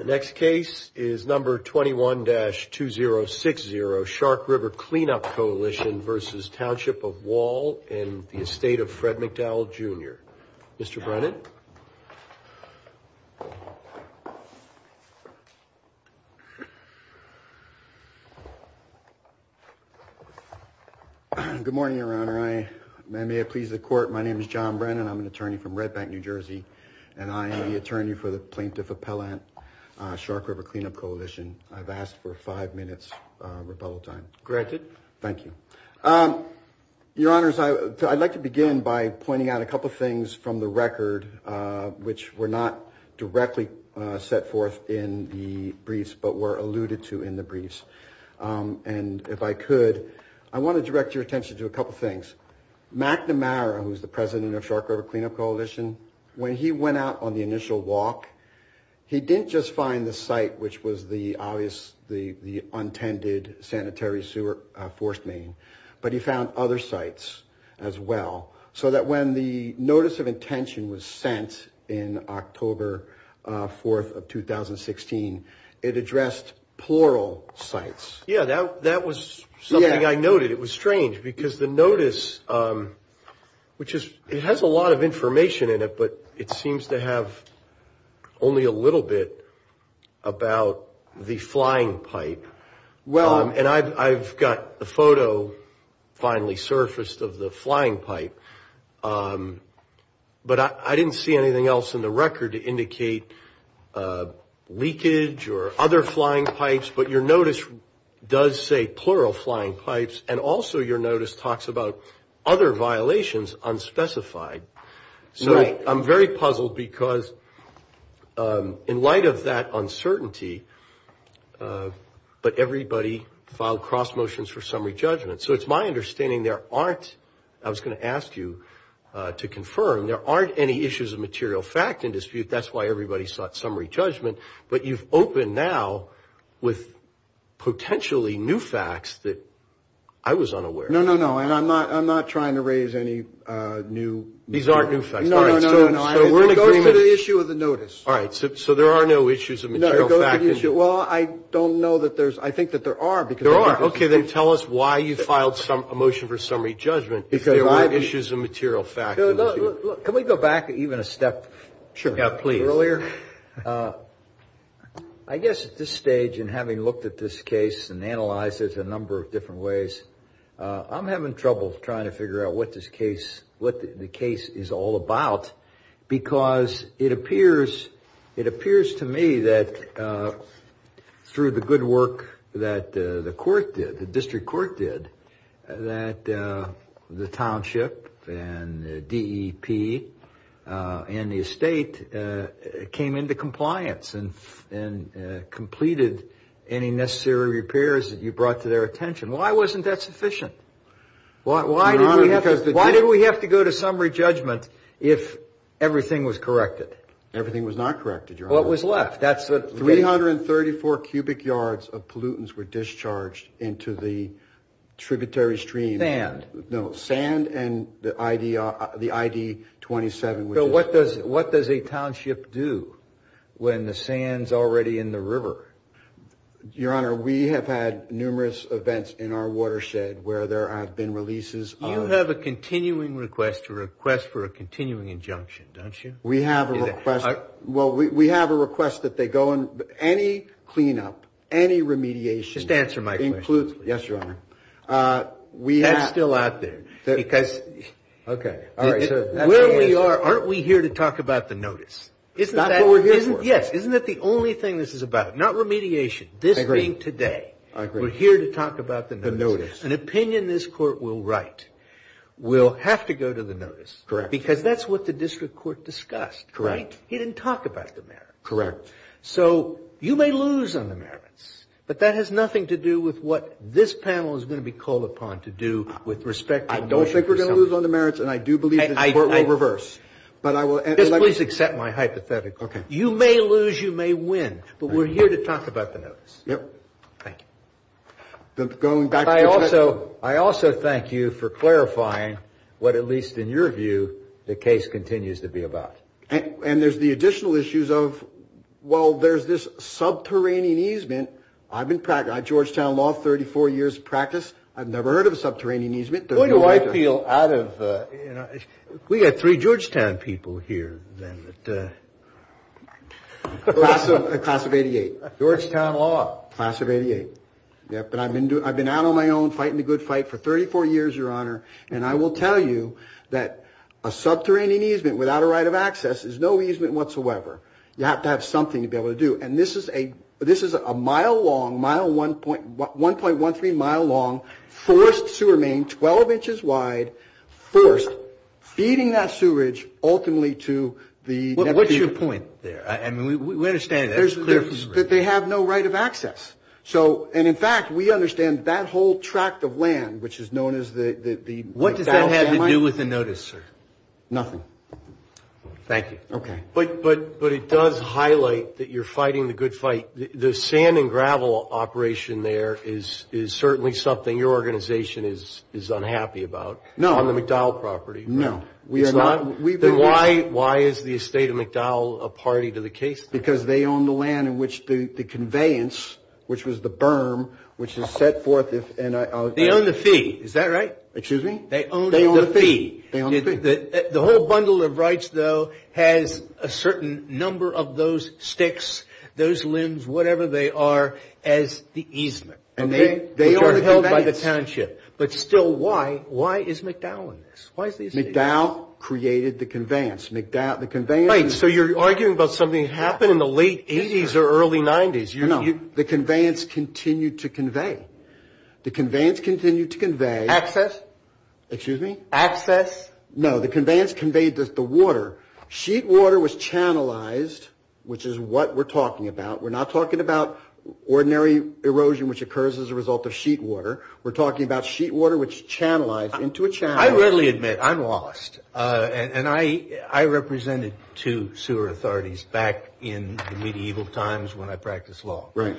and the estate of Fred McDowell Jr. Mr. Brennan. Good morning, Your Honor. May it please the Court, my name is John Brennan. I'm an attorney from Redback, New Jersey, and I am the attorney for the Plaintiff's Association. Plaintiff Appellant, Shark River Cleanup Coalition. I've asked for five minutes rebuttal time. Corrected. Thank you. Your Honors, I'd like to begin by pointing out a couple of things from the record, which were not directly set forth in the briefs, but were alluded to in the briefs. And if I could, I want to direct your attention to a couple of things. One is, Mack Namara, who's the president of Shark River Cleanup Coalition, when he went out on the initial walk, he didn't just find the site, which was the obvious, the untended sanitary sewer fourth main, but he found other sites as well. So that when the notice of intention was sent in October 4th of 2016, it addressed plural sites. Yeah, that was something I noted. It was strange, because the notice, which has a lot of information in it, but it seems to have only a little bit about the flying pipe. And I've got the photo finally surfaced of the flying pipe. But I didn't see anything else in the record to indicate leakage or other flying pipes. But your notice does say plural flying pipes, and also your notice talks about other violations unspecified. So I'm very puzzled, because in light of that uncertainty, but everybody filed cross motions for summary judgment. So it's my understanding there aren't, I was going to ask you to confirm, there aren't any issues of material fact in dispute. That's why everybody sought summary judgment. But you've opened now with potentially new facts that I was unaware of. No, no, no. And I'm not trying to raise any new. These aren't new facts. No, no, no. Go to the issue of the notice. All right. So there are no issues of material fact in dispute. Well, I don't know that there's, I think that there are. There are. Okay, then tell us why you filed a motion for summary judgment. Can we go back even a step earlier? I guess at this stage, and having looked at this case and analyzed it a number of different ways, I'm having trouble trying to figure out what this case, what the case is all about. Because it appears, it appears to me that through the good work that the court did, the district court did, that the township and the DEP and the estate came into compliance and completed any necessary repairs that you brought to their attention. Why wasn't that sufficient? Why do we have to go to summary judgment if everything was corrected? Everything was not corrected. What was left? 334 cubic yards of pollutants were discharged into the tributary stream. Sand. No, sand and the ID 27. So what does a township do when the sand's already in the river? Your Honor, we have had numerous events in our watershed where there have been releases. You have a continuing request to request for a continuing injunction, don't you? We have a request. Well, we have a request that they go on any cleanup, any remediation. Just answer my question. Yes, Your Honor. That's still out there. Okay. Where we are, aren't we here to talk about the notice? Isn't that what we're here for? Yes. Isn't that the only thing this is about? Not remediation. This being today, we're here to talk about the notice. The notice. An opinion this court will write will have to go to the notice. Correct. Because that's what the district court discussed, right? Correct. He didn't talk about the merits. Correct. So you may lose on the merits, but that has nothing to do with what this panel is going to be called upon to do with respect to the merits. I don't think we're going to lose on the merits, and I do believe the court will reverse. Just please accept my hypothetical. Okay. You may lose, you may win, but we're here to talk about the notice. Yep. Thank you. I also thank you for clarifying what, at least in your view, the case continues to be about. And there's the additional issues of, well, there's this subterranean easement. I've been practicing Georgetown law 34 years of practice. I've never heard of a subterranean easement. What do I feel out of, you know, we've got three Georgetown people here. Class of 88. Georgetown law. Class of 88. But I've been out on my own fighting the good fight for 34 years, Your Honor, and I will tell you that a subterranean easement without a right of access is no easement whatsoever. You have to have something to be able to do. And this is a mile-long, 1.13-mile-long forced sewer main, 12 inches wide, first feeding that sewerage ultimately to the next sewerage. What's your point there? I mean, we understand that. They have no right of access. And, in fact, we understand that whole tract of land, which is known as the ____. What does that have to do with the notice, sir? Nothing. Thank you. Okay. But it does highlight that you're fighting the good fight. The sand and gravel operation there is certainly something your organization is unhappy about on the McDowell property. No. Then why is the estate of McDowell a party to the case? Because they own the land in which the conveyance, which was the berm, which was set forth in a ____. They own the fee. Is that right? Excuse me? They own the fee. They own the fee. The whole bundle of rights, though, has a certain number of those sticks, those limbs, whatever they are, as the easement. And they are held by the township. But still, why? Why is McDowell in this? McDowell created the conveyance. So you're arguing about something that happened in the late 80s or early 90s. No. The conveyance continued to convey. The conveyance continued to convey. Access? Excuse me? Access? No. The conveyance conveyed the water. Sheet water was channelized, which is what we're talking about. We're not talking about ordinary erosion, which occurs as a result of sheet water. We're talking about sheet water, which channelized into a channel. I readily admit, I'm lost. And I represented two sewer authorities back in the medieval times when I practiced law. Right.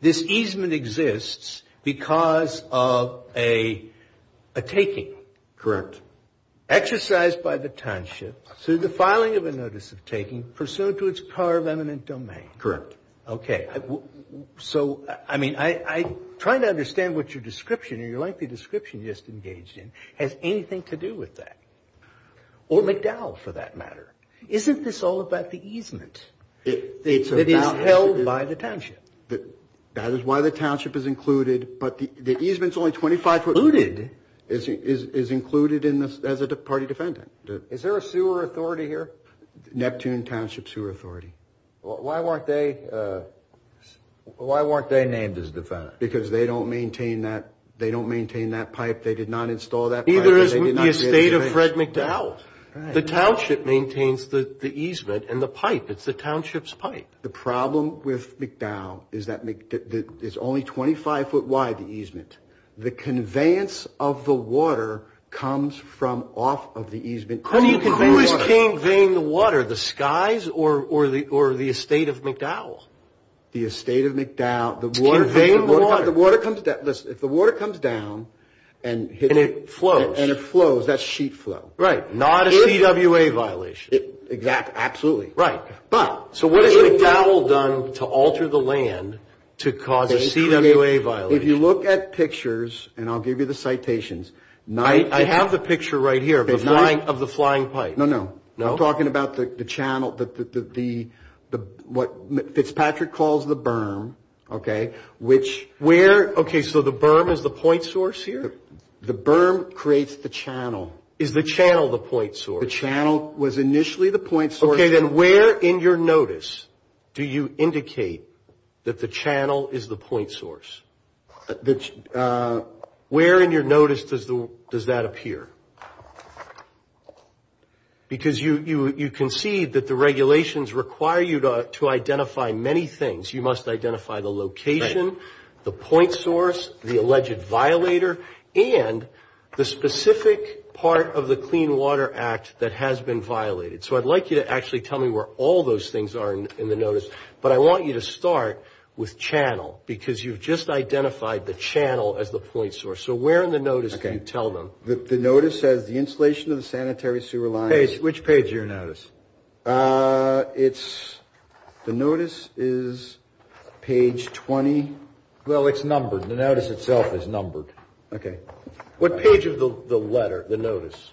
This easement exists because of a taking. Correct. Exercised by the township through the filing of a notice of taking, pursuant to its power of eminent domain. Correct. OK. So, I mean, I'm trying to understand what your description, your lengthy description you just engaged in, has anything to do with that. Or McDowell, for that matter. Isn't this all about the easement? It's held by the township. That is why the township is included, but the easement is only 25 foot. Included? Is included as a party defendant. Is there a sewer authority here? Neptune Township Sewer Authority. Why weren't they named as defendants? Because they don't maintain that pipe. They did not install that pipe. Neither is the estate of Fred McDowell. The township maintains the easement and the pipe. It's the township's pipe. The problem with McDowell is that it's only 25 foot wide, the easement. The conveyance of the water comes from off of the easement. Who is paying the water? The Skies or the estate of McDowell? The estate of McDowell. If the water comes down and it flows, that's sheet flow. Right. Not a CWA violation. Exactly. Absolutely. Right. So what has McDowell done to alter the land to cause a CWA violation? If you look at pictures, and I'll give you the citations. I have the picture right here of the flying pipe. No, no. I'm talking about the channel, what Fitzpatrick calls the berm. Okay, so the berm is the point source here? The berm creates the channel. Is the channel the point source? The channel was initially the point source. Okay, then where in your notice do you indicate that the channel is the point source? Where in your notice does that appear? Because you can see that the regulations require you to identify many things. You must identify the location, the point source, the alleged violator, and the specific part of the Clean Water Act that has been violated. So I'd like you to actually tell me where all those things are in the notice, but I want you to start with channel, because you've just identified the channel as the point source. So where in the notice do you tell them? The notice says the installation of the sanitary sewer line. Which page of your notice? It's, the notice is page 20. Well, it's numbered. The notice itself is numbered. Okay. What page of the letter, the notice?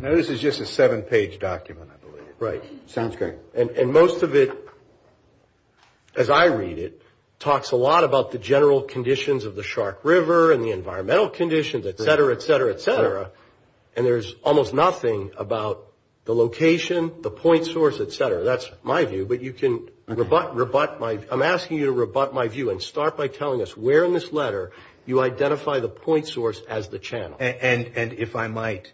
Notice is just a seven-page document, I believe. Right. Sounds great. And most of it, as I read it, talks a lot about the general conditions of the Shark River and the environmental conditions, et cetera, et cetera, et cetera, and there's almost nothing about the location, the point source, et cetera. That's my view, but you can rebut my, I'm asking you to rebut my view and start by telling us where in this letter you identify the point source as the channel. And if I might,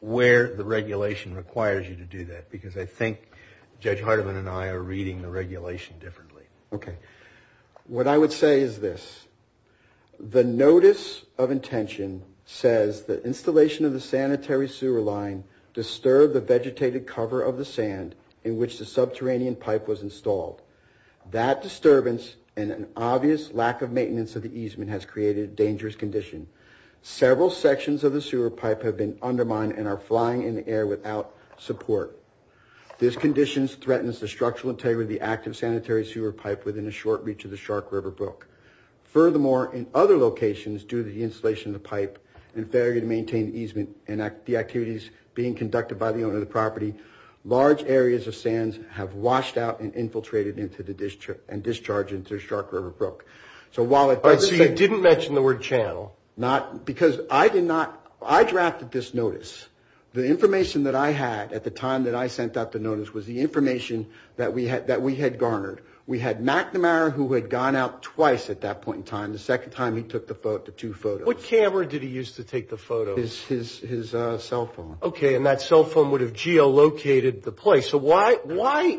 where the regulation requires you to do that, because I think Judge Hardeman and I are reading the regulation differently. Okay. What I would say is this. The notice of intention says that installation of the sanitary sewer line disturbed the vegetated cover of the sand in which the subterranean pipe was installed. That disturbance and an obvious lack of maintenance of the easement has created a dangerous condition. Several sections of the sewer pipe have been undermined and are flying in the air without support. This condition threatens the structural integrity of the active sanitary sewer pipe within a short reach of the Shark River brook. Furthermore, in other locations, due to the installation of the pipe and failure to maintain easement and the activities being conducted by the owner of the property, large areas of sands have washed out and infiltrated into the district and discharged into Shark River brook. So while it... I see you didn't mention the word channel. Not, because I did not, I drafted this notice. The information that I had at the time that I sent out the notice was the information that we had garnered. We had McNamara who had gone out twice at that point in time, the second time he took the two photos. What camera did he use to take the photos? His cell phone. Okay, and that cell phone would have geolocated the place. So why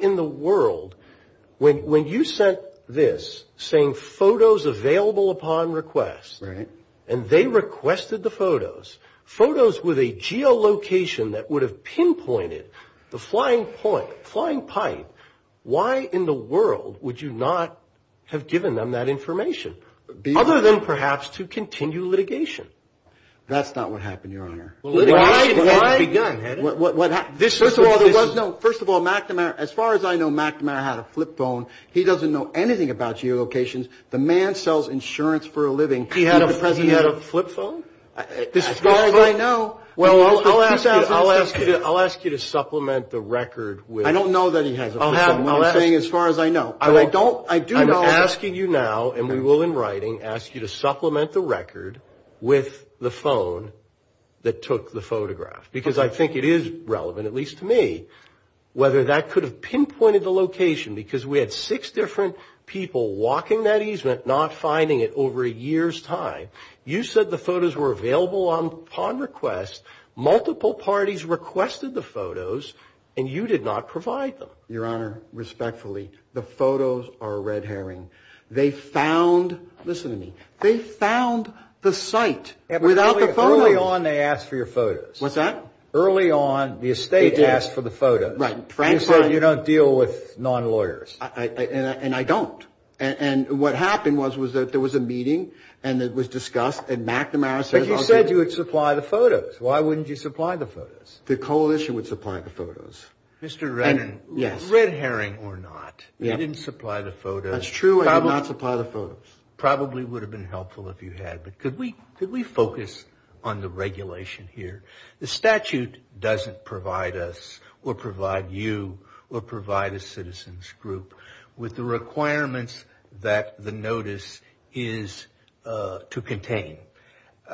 in the world, when you sent this, saying photos available upon request, and they requested the photos, photos with a geolocation that would have pinpointed the flying pipe, why in the world would you not have given them that information? Other than perhaps to continue litigation. That's not what happened, Your Honor. What? What happened? First of all, McNamara, as far as I know, McNamara had a flip phone. He doesn't know anything about geolocations. The man sells insurance for a living. He had a flip phone? As far as I know. Well, I'll ask you to supplement the record with... I don't know that he has a flip phone. I'm saying as far as I know. I'm asking you now, and we will in writing, ask you to supplement the record with the phone that took the photograph. Because I think it is relevant, at least to me, whether that could have pinpointed the location, because we had six different people walking that easement, not finding it over a year's time. You said the photos were available upon request. Multiple parties requested the photos, and you did not provide them. Your Honor, respectfully, the photos are red herring. They found, listen to me, they found the site without the photos. Early on, they asked for your photos. What's that? Early on, the estate asked for the photos. Right. So you don't deal with non-lawyers. And I don't. And what happened was that there was a meeting, and it was discussed, and McNamara said... But you said you would supply the photos. Why wouldn't you supply the photos? The coalition would supply the photos. Mr. Redding, red herring or not, you didn't supply the photos. That's true, I did not supply the photos. Probably would have been helpful if you had. But could we focus on the regulation here? The statute doesn't provide us or provide you or provide a citizen's group with the requirements that the notice is to contain.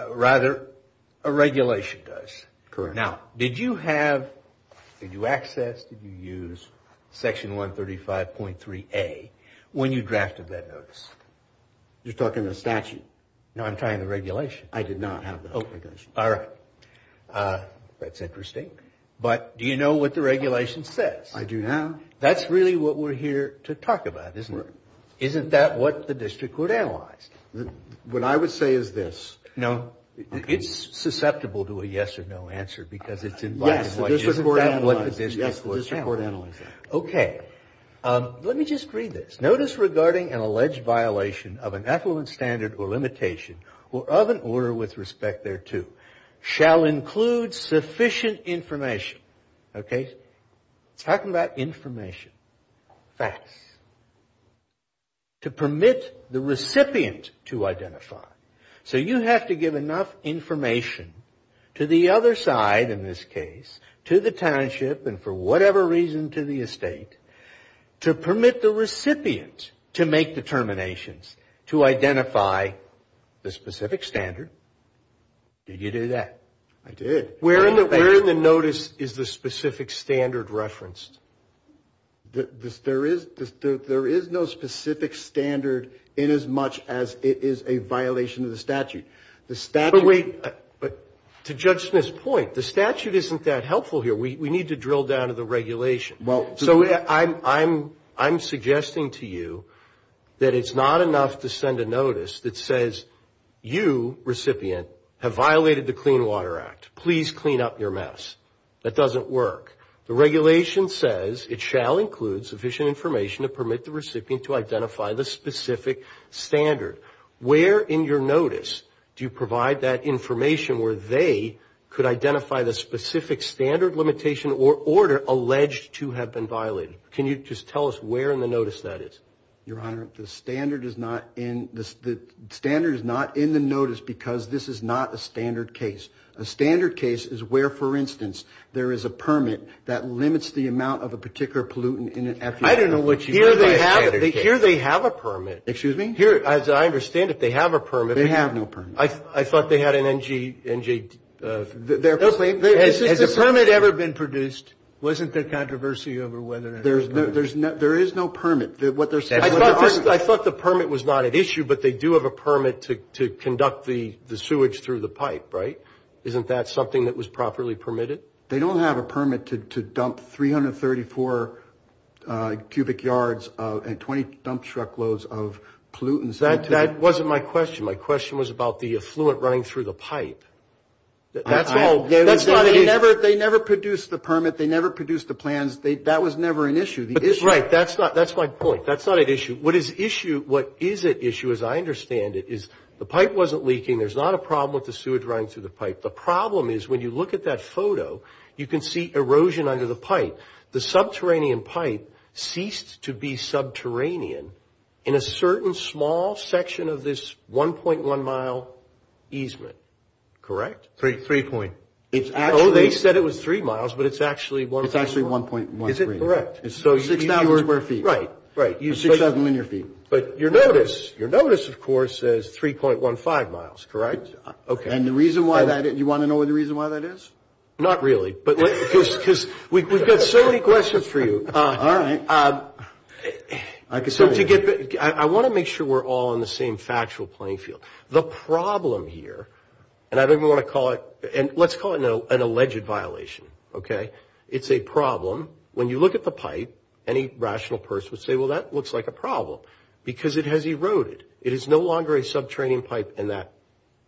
Rather, a regulation does. Correct. Now, did you have, did you access, did you use Section 135.3A when you drafted that notice? You're talking the statute. No, I'm talking the regulation. I did not have the regulation. All right. That's interesting. But do you know what the regulation says? I do now. That's really what we're here to talk about, isn't it? Isn't that what the district would analyze? What I would say is this. Now, it's susceptible to a yes or no answer because it's in violation of what the district would say. Yes, the district would analyze it. OK. Let me just read this. Notice regarding an alleged violation of an affluent standard or limitation or of an order with respect thereto shall include sufficient information. OK. Talking about information. Facts. To permit the recipient to identify. So you have to give enough information to the other side, in this case, to the township and for whatever reason to the estate, to permit the recipient to make determinations, to identify the specific standard. Did you do that? I did. Where in the notice is the specific standard referenced? There is no specific standard in as much as it is a violation of the statute. But wait. To Judge Smith's point, the statute isn't that helpful here. We need to drill down to the regulation. So I'm suggesting to you that it's not enough to send a notice that says, you, recipient, have violated the Clean Water Act. Please clean up your mess. That doesn't work. The regulation says it shall include sufficient information to permit the recipient to identify the specific standard. Where in your notice do you provide that information where they could identify the specific standard, limitation, or order alleged to have been violated? Can you just tell us where in the notice that is? Your Honor, the standard is not in the notice because this is not a standard case. A standard case is where, for instance, there is a permit that limits the amount of a particular pollutant in an FUD. I don't know what you mean by standard case. Here they have a permit. Excuse me? Here, as I understand it, they have a permit. They have no permit. I thought they had an NGD. Has the permit ever been produced? Wasn't there controversy over whether it was permitted? There is no permit. I thought the permit was not at issue, but they do have a permit to conduct the sewage through the pipe, right? Isn't that something that was properly permitted? They don't have a permit to dump 334 cubic yards and 20 dump truckloads of pollutants. That wasn't my question. My question was about the effluent running through the pipe. They never produced the permit. They never produced the plans. That was never an issue. Right. That's my point. That's not at issue. What is at issue, as I understand it, is the pipe wasn't leaking. There's not a problem with the sewage running through the pipe. The problem is when you look at that photo, you can see erosion under the pipe. The subterranean pipe ceased to be subterranean in a certain small section of this 1.1-mile easement, correct? Three point. They said it was three miles, but it's actually 1.1. Is it correct? Six thousand square feet. Right. You have 6,000 linear feet. But your notice, your notice, of course, says 3.15 miles, correct? Okay. And the reason why that is, you want to know what the reason why that is? Not really, because we've got so many questions for you. All right. I want to make sure we're all on the same factual playing field. It's a problem. It's a problem. When you look at the pipe, any rational person would say, well, that looks like a problem, because it has eroded. It is no longer a subterranean pipe in that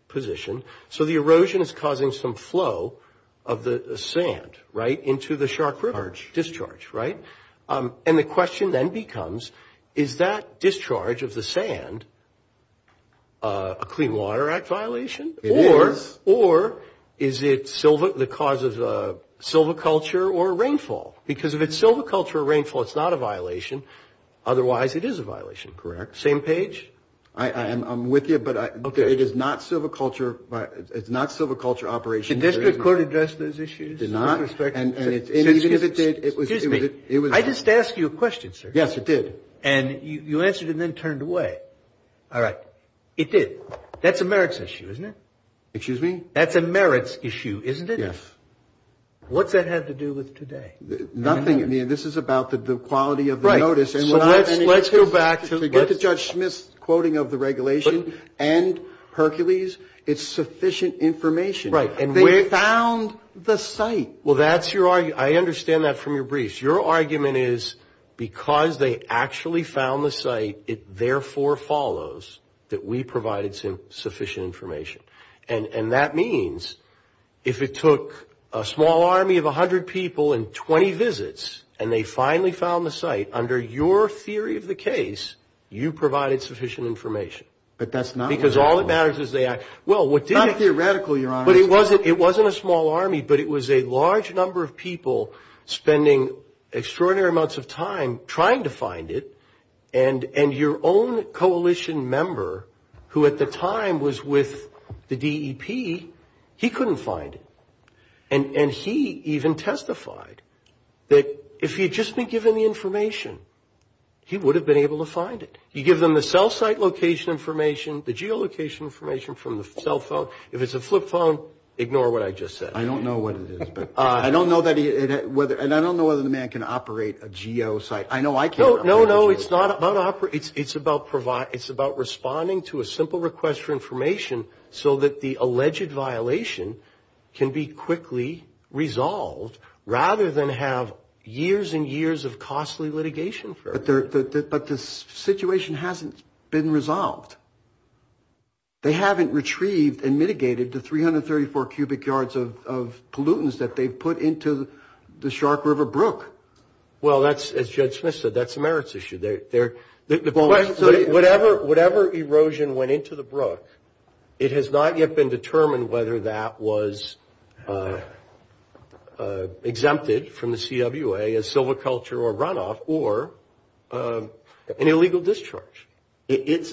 position. So the erosion is causing some flow of the sand, right, into the Shark River discharge, right? And the question then becomes, is that discharge of the sand a Clean Water Act violation? It is. Or is it the cause of silviculture or rainfall? Because if it's silviculture or rainfall, it's not a violation. Otherwise, it is a violation. Correct. Same page? I'm with you, but it is not silviculture operations. Did the district court address those issues? Did not. And it did. Excuse me. I just asked you a question, sir. Yes, it did. And you answered it and then turned away. All right. It did. That's a merits issue, isn't it? Excuse me? That's a merits issue, isn't it? Yes. What does that have to do with today? Nothing. I mean, this is about the quality of the notice. Right. So let's go back to Judge Smith's quoting of the regulation and Hercules. It's sufficient information. Right. And they found the site. Well, that's your argument. I understand that from your brief. Your argument is, because they actually found the site, it therefore follows that we provided sufficient information. And that means if it took a small army of 100 people and 20 visits and they finally found the site, under your theory of the case, you provided sufficient information. But that's not what happened. Because all that matters is they actually – well, what did it – Not theoretical, Your Honor. But it wasn't a small army, but it was a large number of people spending extraordinary amounts of time trying to find it. And your own coalition member, who at the time was with the DEP, he couldn't find it. And he even testified that if he had just been given the information, he would have been able to find it. You give them the cell site location information, the geolocation information from the cell phone. If it's a flip phone, ignore what I just said. I don't know what it is. I don't know whether – and I don't know whether the man can operate a geo site. I know I can't. No, no, no. It's not about – it's about responding to a simple request for information so that the alleged violation can be quickly resolved rather than have years and years of costly litigation for it. But the situation hasn't been resolved. They haven't retrieved and mitigated the 334 cubic yards of pollutants that they put into the Shark River Brook. Well, that's – as Judge Smith said, that's a merits issue. They're – whatever erosion went into the Brook, it has not yet been determined whether that was exempted from the CWA as silviculture or runoff or an illegal discharge. It's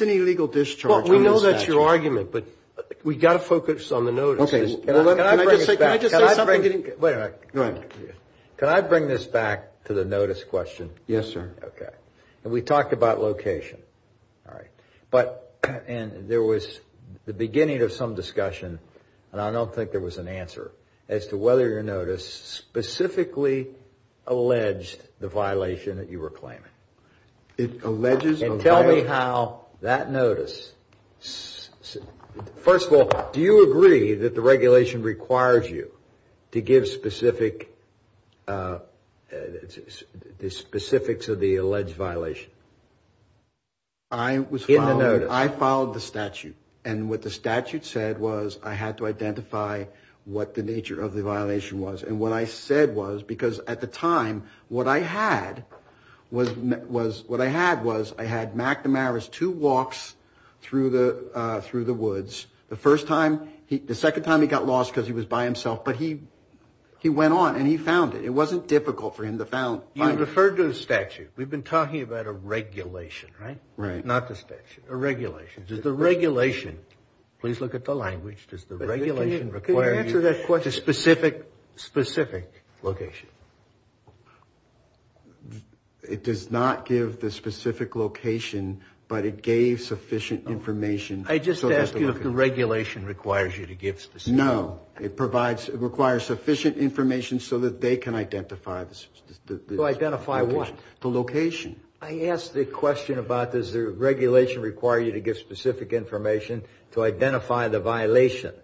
an illegal discharge. Well, we know that's your argument, but we've got to focus on the notice. Can I just say something? Wait a minute. Go ahead. Can I bring this back to the notice question? Yes, sir. Okay. And we talked about location. All right. But – and there was the beginning of some discussion, and I don't think there was an answer, as to whether your notice specifically alleged the violation that you were claiming. It alleges a violation. And tell me how that notice – first of all, do you agree that the regulation requires you to give specific – the specifics of the alleged violation? In the notice. I followed the statute, and what the statute said was I had to identify what the nature of the violation was. And what I said was – because at the time, what I had was – what I had was I had McNamara's two walks through the woods. The first time – the second time he got lost because he was by himself, but he went on and he found it. It wasn't difficult for him to find it. You referred to the statute. We've been talking about a regulation, right? Right. Not the statute. A regulation. Does the regulation – please look at the language. Does the regulation require you to – Give specific location. It does not give the specific location, but it gave sufficient information. I just asked if the regulation requires you to give specific – No. It provides – it requires sufficient information so that they can identify the – To identify what? The location. I asked the question about does the regulation require you to give specific information to identify the violation.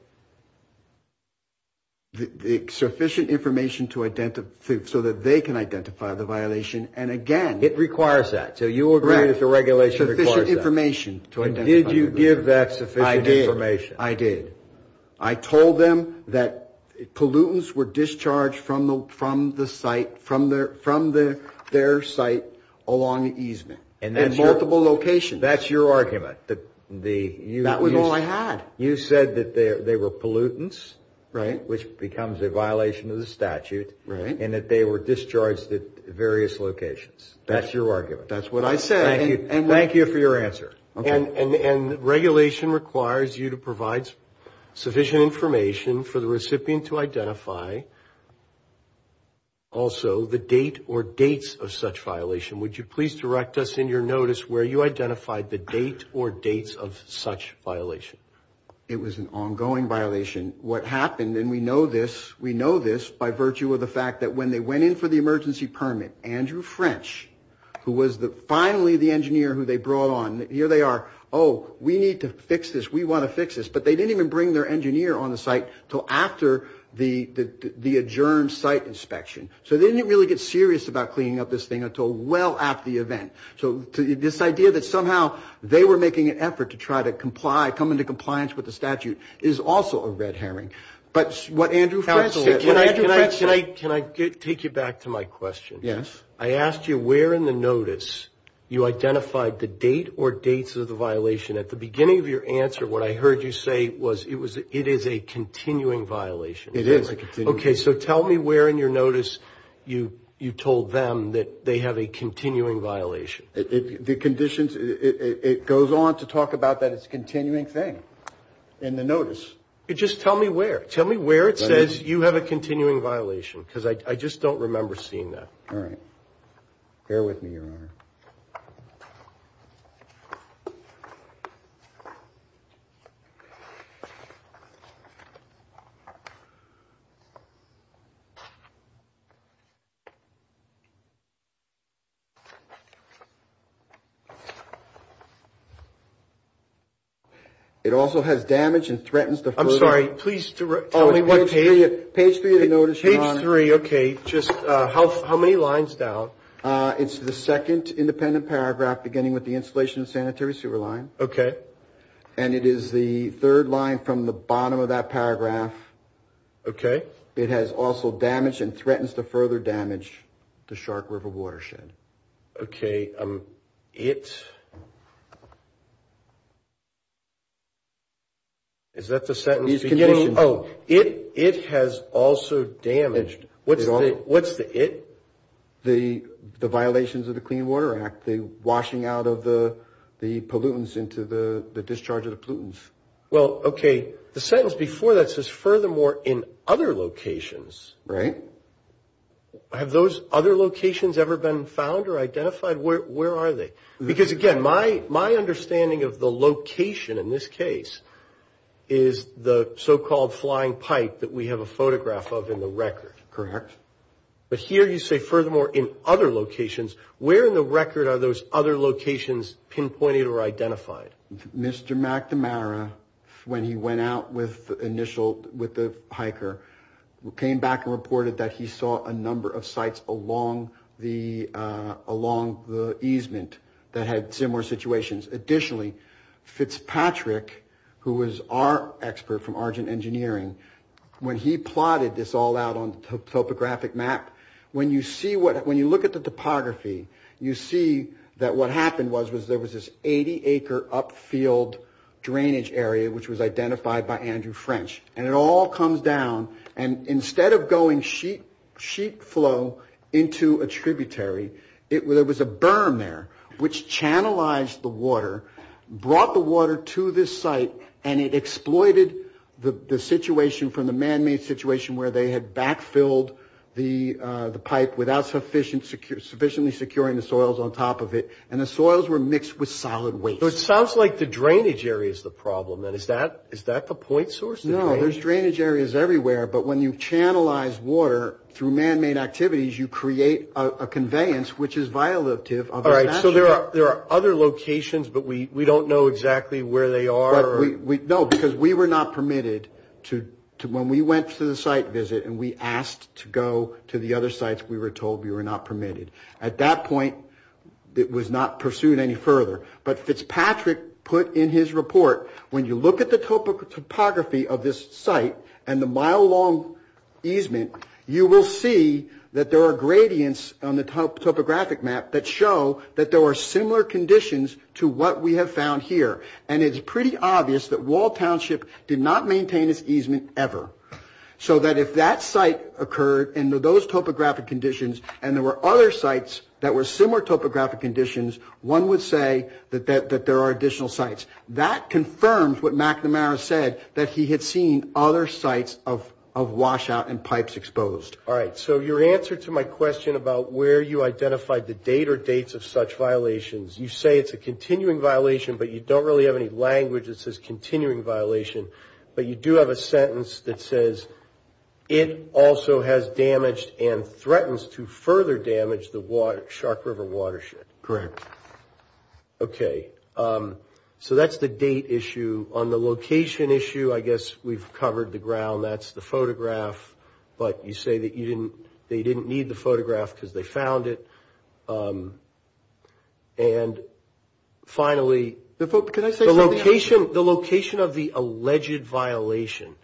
The sufficient information to identify – so that they can identify the violation. And again – It requires that. So you agree that the regulation requires that. Right. Sufficient information. And did you give that sufficient information? I did. I did. I told them that pollutants were discharged from the site – from their site along the easement in multiple locations. That's your argument. That was all I had. You said that they were pollutants. Right. Which becomes a violation of the statute. Right. And that they were discharged at various locations. That's your argument. That's what I said. Thank you. Thank you for your answer. Okay. And regulation requires you to provide sufficient information for the recipient to identify also the date or dates of such violation. Would you please direct us in your notice where you identified the date or dates of such violation? It was an ongoing violation. What happened – and we know this – we know this by virtue of the fact that when they went in for the emergency permit, Andrew French, who was finally the engineer who they brought on – here they are. Oh, we need to fix this. We want to fix this. But they didn't even bring their engineer on the site until after the adjourned site inspection. So they didn't really get serious about cleaning up this thing until well after the event. So this idea that somehow they were making an effort to try to comply, come into compliance with the statute, is also a red herring. But what Andrew French – Can I take you back to my question? Yes. I asked you where in the notice you identified the date or dates of the violation. At the beginning of your answer, what I heard you say was it is a continuing violation. It is a continuing violation. Okay. So tell me where in your notice you told them that they have a continuing violation. The conditions – it goes on to talk about that it's a continuing thing in the notice. Just tell me where. Tell me where it says you have a continuing violation, because I just don't remember All right. Bear with me, Your Honor. It also has damage and threatens to – I'm sorry. Please tell me what page. Page 3 of the notice, Your Honor. Page 3. Okay. Just how many lines down? It's the second independent paragraph beginning with the installation of sanitary sewer line. Okay. And it is the third line from the bottom of that paragraph. Okay. It has also damaged and threatens to further damage the Shark River watershed. Okay. It – is that the sentence? These conditions – Oh, it has also damaged. What's the it? The violations of the Clean Water Act. The washing out of the pollutants into the discharge of the pollutants. Well, okay, the sentence before that says furthermore in other locations. Right. Have those other locations ever been found or identified? Where are they? Because, again, my understanding of the location in this case is the so-called flying pipe that we have a photograph of in the record. Correct. But here you say furthermore in other locations. Where in the record are those other locations pinpointed or identified? Mr. McNamara, when he went out with the initial – with the hiker, came back and reported that he saw a number of sites along the easement that had similar situations. Additionally, Fitzpatrick, who was our expert from Argent Engineering, when he plotted this all out on topographic map, when you see what – when you look at the topography, you see that what happened was there was this 80-acre upfield drainage area, which was identified by Andrew French. And it all comes down, and instead of going sheet flow into a tributary, there was a berm there, which channelized the water, brought the water to this site, and it exploited the situation from the man-made situation where they had backfilled the pipe without sufficiently securing the soils on top of it, and the soils were mixed with solid waste. So it sounds like the drainage area is the problem. Is that the point source? No. There's drainage areas everywhere, but when you channelize water through man-made activities, you create a conveyance, which is violative. All right. So there are other locations, but we don't know exactly where they are? No, because we were not permitted to – when we went to the site visit and we asked to go to the other sites, we were told we were not permitted. At that point, it was not pursued any further. But Fitzpatrick put in his report, when you look at the topography of this site and the mile-long easement, you will see that there are gradients on the topographic map that show that there were similar conditions to what we have found here. And it's pretty obvious that Wall Township did not maintain its easement ever, so that If that site occurred in those topographic conditions and there were other sites that were similar topographic conditions, one would say that there are additional sites. That confirms what McNamara said, that he had seen other sites of washout and pipes exposed. All right. So your answer to my question about where you identified the date or dates of such violations, you say it's a continuing violation, but you don't really have any language that says it also has damaged and threatens to further damage the Shark River watershed. Correct. Okay. So that's the date issue. On the location issue, I guess we've covered the ground. That's the photograph. But you say that they didn't need the photograph because they found it. And finally, the location of the alleged violation.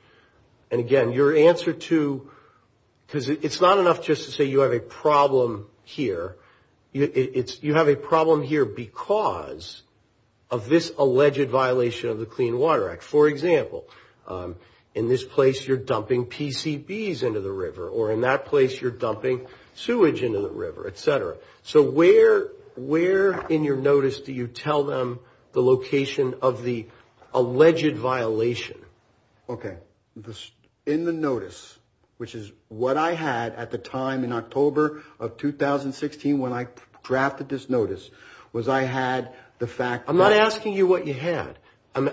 And again, your answer to – because it's not enough just to say you have a problem here. You have a problem here because of this alleged violation of the Clean Water Act. For example, in this place you're dumping PCBs into the river, or in that place you're dumping sewage into the river, et cetera. So where in your notice do you tell them the location of the alleged violation? Okay. In the notice, which is what I had at the time in October of 2016 when I drafted this notice, was I had the fact – I'm not asking you what you had. I'm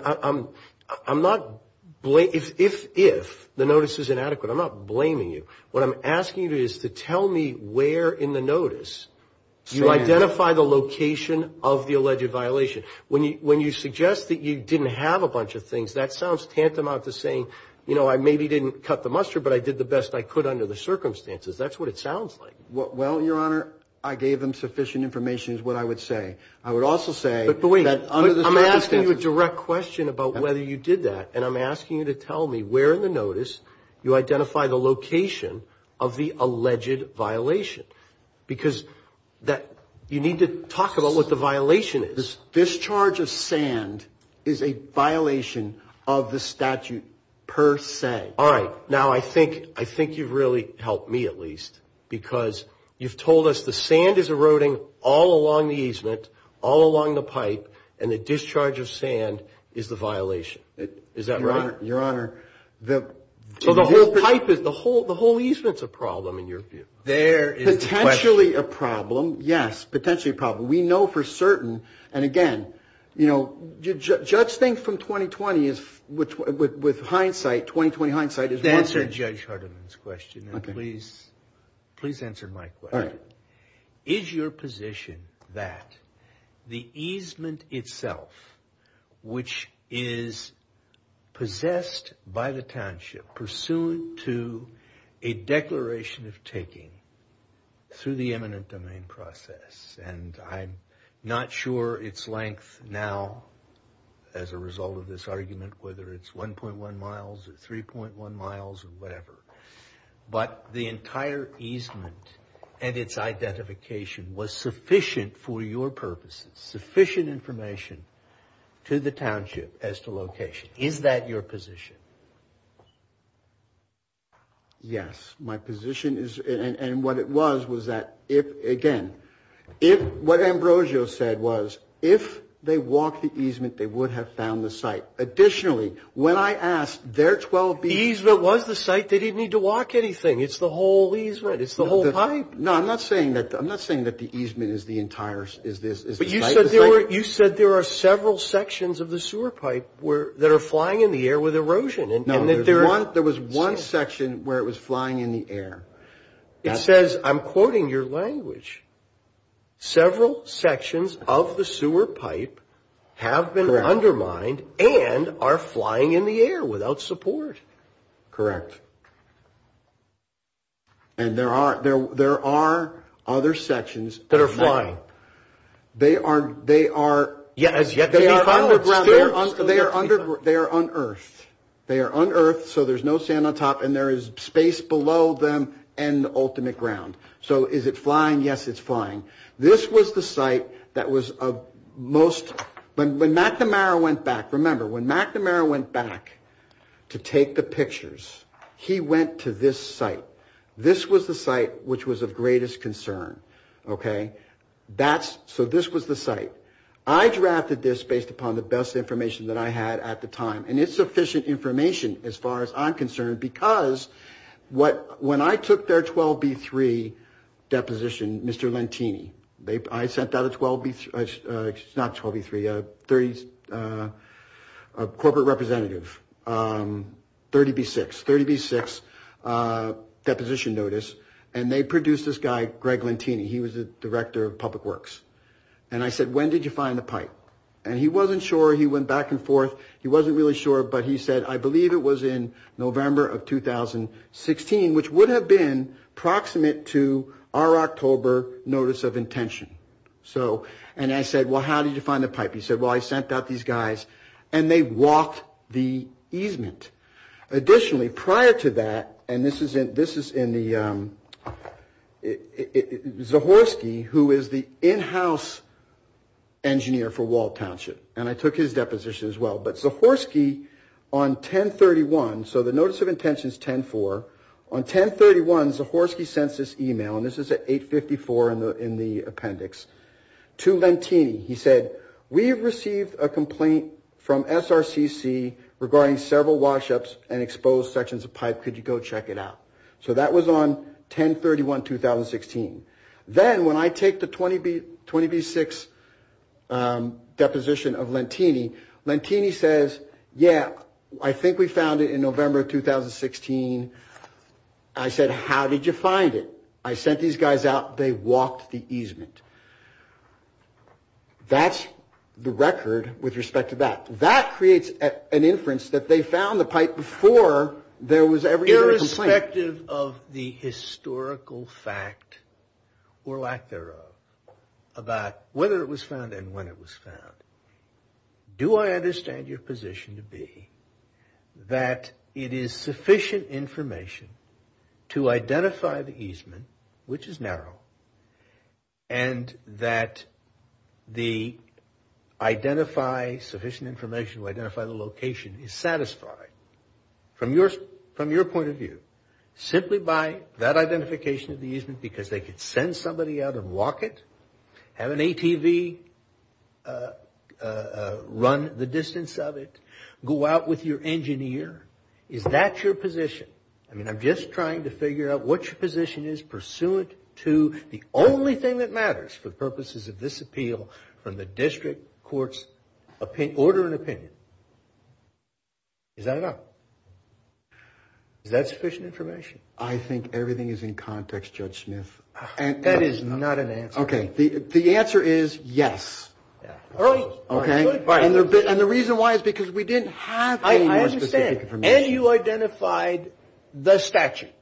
not – if the notice is inadequate, I'm not blaming you. What I'm asking you to do is to tell me where in the notice you identified the location of the alleged violation. When you suggest that you didn't have a bunch of things, that sounds tantamount to saying, you know, I maybe didn't cut the mustard, but I did the best I could under the circumstances. That's what it sounds like. Well, Your Honor, I gave them sufficient information is what I would say. I would also say – But wait. I'm asking you a direct question about whether you did that. And I'm asking you to tell me where in the notice you identified the location of the alleged violation. Because that – you need to talk about what the violation is. This discharge of sand is a violation of the statute per se. All right. Now, I think you've really helped me, at least, because you've told us the sand is eroding all along the easement, all along the pipe, and the discharge of sand is the violation. Is that right? Your Honor, the – So the whole pipe is – the whole easement's a problem in your view. There is a question. Potentially a problem. Yes. Potentially a problem. We know for certain. And again, you know, judge thinks from 20-20 is – with hindsight, 20-20 hindsight is – Answer Judge Hardiman's question. Okay. And please answer my question. All right. Is your position that the easement itself, which is possessed by the township, pursuant to a declaration of taking through the eminent domain process – and I'm not sure its length now as a result of this argument, whether it's 1.1 miles or 3.1 miles or whatever, but the entire easement and its identification was sufficient for your purposes, sufficient information to the township as to location. Is that your position? Yes. My position is – and what it was, was that if – again, if – what Ambrosio said was, if they walked the easement, they would have found the site. Additionally, when I asked, there are 12 – The easement was the site. They didn't need to walk anything. It's the whole easement. It's the whole pipe. No, I'm not saying that – I'm not saying that the easement is the entire – is the You said there are several sections of the sewer pipe that are flying in the air with erosion. No, there was one section where it was flying in the air. It says – I'm quoting your language – several sections of the sewer pipe have been undermined and are flying in the air without support. Correct. And there are other sections – That are flying. They are – they are – Yeah, as yet they are underground. They are under – they are unearthed. They are unearthed, so there's no sand on top, and there is space below them and ultimate ground. So is it flying? Yes, it's flying. This was the site that was most – when McNamara went back – remember, when McNamara went back to take the pictures, he went to this site. This was the site which was of greatest concern. Okay? That's – so this was the site. I drafted this based upon the best information that I had at the time, and it's sufficient information as far as I'm concerned because when I took their 12B3 deposition, Mr. Lentini – I sent out a 12B – not 12B3, a 30 – a corporate representative, 30B6, deposition notice, and they produced this guy, Greg Lentini. He was the director of public works. And I said, when did you find the pipe? And he wasn't sure. He went back and forth. He wasn't really sure, but he said, I believe it was in November of 2016, which would have been proximate to our October notice of intention. So – and I said, well, how did you find the pipe? He said, well, I sent out these guys, and they walked the easement. Additionally, prior to that – and this is in the – Zahorsky, who is the in-house engineer for Walt Township, and I took his deposition as well. But Zahorsky, on 10-31 – so the notice of intention is 10-4. On 10-31, Zahorsky sent this email, and this is at 8-54 in the appendix, to Lentini. He said, we have received a complaint from SRCC regarding several wash-ups and exposed sections of pipe. Could you go check it out? So that was on 10-31, 2016. Then, when I take the 20B6 deposition of Lentini, Lentini says, yeah, I think we found it in November of 2016. I said, how did you find it? I sent these guys out. They walked the easement. That's the record with respect to that. That creates an inference that they found the pipe before there was ever a complaint. Irrespective of the historical fact or lack thereof about whether it was found and when it was found, do I understand your position to be that it is sufficient information to identify the easement, which is narrow, and that the identify – sufficient information to identify the location is satisfied from your point of view simply by that identification of the easement because they could send somebody out and walk it, have an ATV run the distance of it, go out with your engineer? Is that your position? I mean, I'm just trying to figure out what your position is pursuant to the only thing that matters for purposes of this appeal from the district court's order and opinion. Is that enough? Is that sufficient information? I think everything is in context, Judge Smith. And that is not an answer. Okay. The answer is yes. Okay. And the reason why is because we didn't have any more specific information. I understand. And you identified the statute.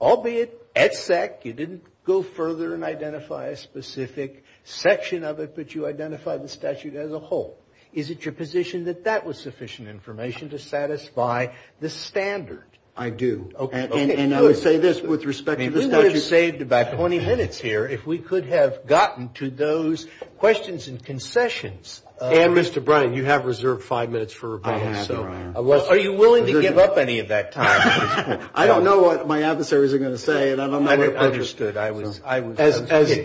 Albeit, exec, you didn't go further and identify a specific section of it, but you identified the statute as a whole. Is it your position that that was sufficient information to satisfy the standard? I do. And I would say this with respect to the statute. We could have saved about 20 minutes here if we could have gotten to those questions and concessions. And, Mr. Bryan, you have reserved five minutes for rebuttal. I have, Brian. Are you willing to give up any of that time? I don't know what my adversaries are going to say, and I'm not going to put it. I understood.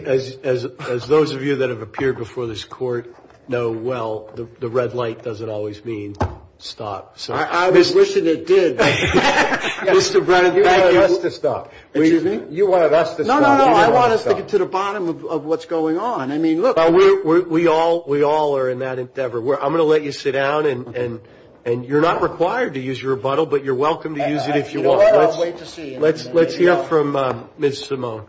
As those of you that have appeared before this court know well, the red light doesn't always mean stop. I was wishing it did. Mr. Bryan, you're not allowed to stop. You wanted us to stop. No, no, no. I want us to get to the bottom of what's going on. I mean, look. We all are in that endeavor. I'm going to let you sit down, and you're not required to use your rebuttal, but you're welcome to use it if you want. I'll wait to see. Let's hear from Ms. Simone.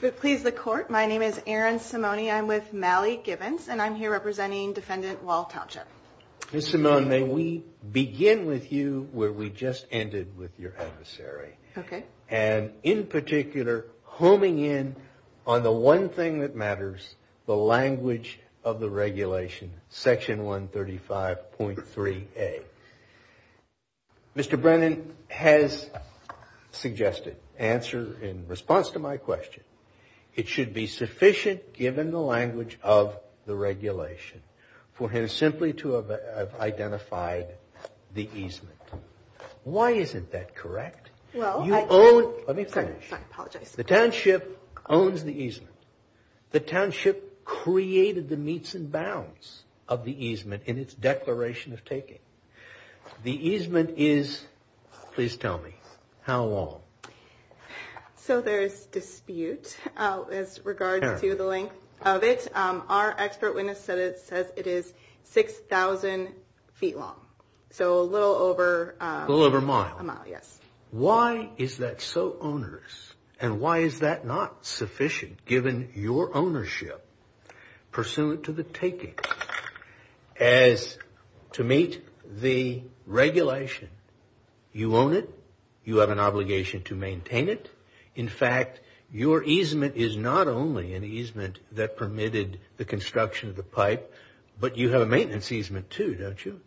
If it pleases the court, my name is Erin Simone. I'm with Mally Gibbons, and I'm here representing Defendant Walt Hatcher. Ms. Simone, may we begin with you where we just ended with your adversary. Okay. And, in particular, homing in on the one thing that matters, the language of the defense. The language of the regulation, section 135.3A. Mr. Brennan has suggested, in response to my question, it should be sufficient, given the language of the regulation, for him simply to have identified the easement. Why isn't that correct? Let me finish. The township owns the easement. The township created the meets and bounds of the easement in its declaration of taking. The easement is, please tell me, how long? So there is dispute as regards to the length of it. Our expert witness says it is 6,000 feet long, so a little over a mile. A little over a mile. Yes. Why is that so onerous, and why is that not sufficient, given your ownership pursuant to the taking? As to meet the regulation, you own it. You have an obligation to maintain it. In fact, your easement is not only an easement that permitted the construction of the pipe, but you have a maintenance easement, too, don't you?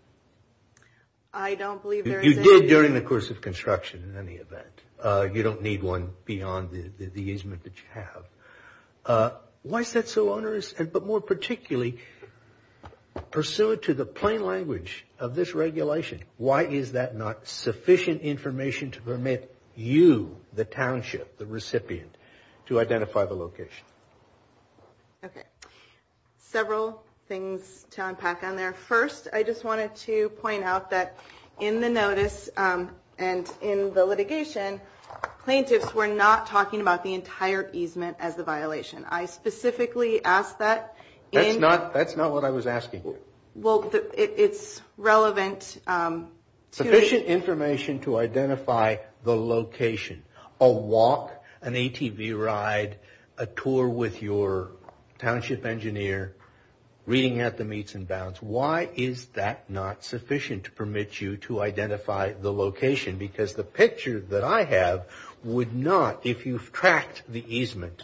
I don't believe there is any. You did during the course of construction, in any event. You don't need one beyond the easement that you have. Why is that so onerous, but more particularly, pursuant to the plain language of this regulation, why is that not sufficient information to permit you, the township, the recipient, to identify the location? Okay. Several things to unpack on there. First, I just wanted to point out that in the notice and in the litigation, plaintiffs were not talking about the entire easement as a violation. I specifically asked that in- That's not what I was asking. Well, it's relevant to- Sufficient information to identify the location. A walk, an ATV ride, a tour with your township engineer, reading at the meets and bounds. Why is that not sufficient to permit you to identify the location? Because the picture that I have would not, if you've tracked the easement,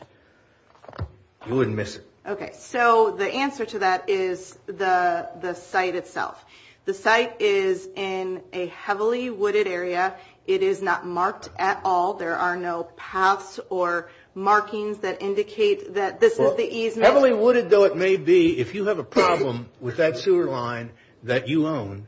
you wouldn't miss it. Okay. So the answer to that is the site itself. The site is in a heavily wooded area. It is not marked at all. Heavily wooded, though it may be, if you have a problem with that sewer line that you own,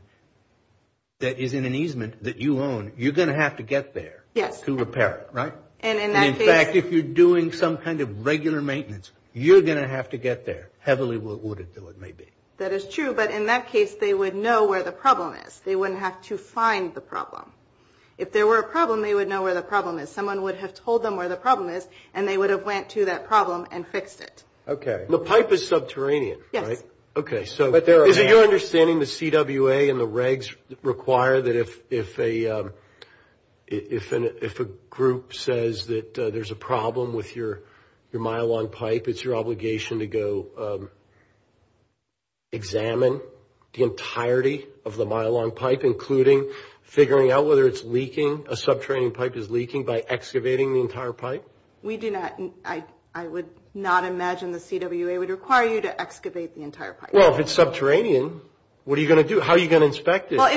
that is in an easement that you own, you're going to have to get there to repair it, right? In fact, if you're doing some kind of regular maintenance, you're going to have to get there, heavily wooded, though it may be. That is true, but in that case, they would know where the problem is. They wouldn't have to find the problem. If there were a problem, they would know where the problem is. If someone would have told them where the problem is, and they would have went to that problem and fixed it. Okay. The pipe is subterranean, right? Yes. Okay. So is it your understanding the CWA and the regs require that if a group says that there's a problem with your myelon pipe, it's your obligation to go examine the entirety of the myelon pipe, including figuring out whether it's leaking, a subterranean pipe is leaking, by excavating the entire pipe? We do not, I would not imagine the CWA would require you to excavate the entire pipe. Well, if it's subterranean, what are you going to do? How are you going to inspect it? Well,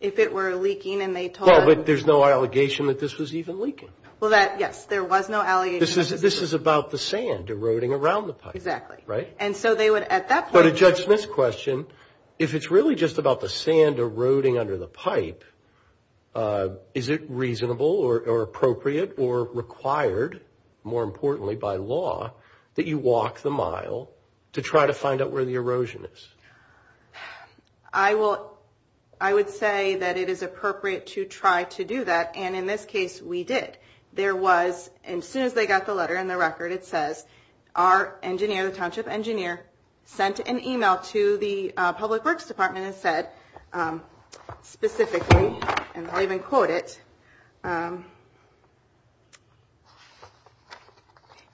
if it were leaking and they told us... Well, but there's no allegation that this was even leaking. Well, that, yes, there was no allegation. This is about the sand eroding around the pipe. Exactly. Right? And so they would, at that point... So to Judge Smith's question, if it's really just about the sand eroding under the pipe, is it reasonable or appropriate or required, more importantly by law, that you walk the mile to try to find out where the erosion is? I would say that it is appropriate to try to do that, and in this case, we did. There was, and as soon as they got the letter and the record, it says, our engineer, the township engineer, sent an e-mail to the public works department and said specifically, and I'll even quote it,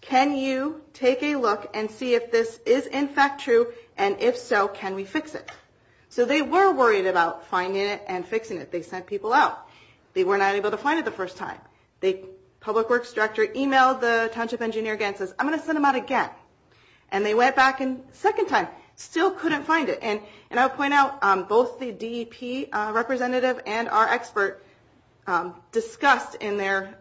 can you take a look and see if this is in fact true, and if so, can we fix it? So they were worried about finding it and fixing it. They sent people out. They were not able to find it the first time. The public works director e-mailed the township engineer again and says, I'm going to send them out again. And they went back a second time, still couldn't find it. And I'll point out, both the DEP representative and our expert discussed in their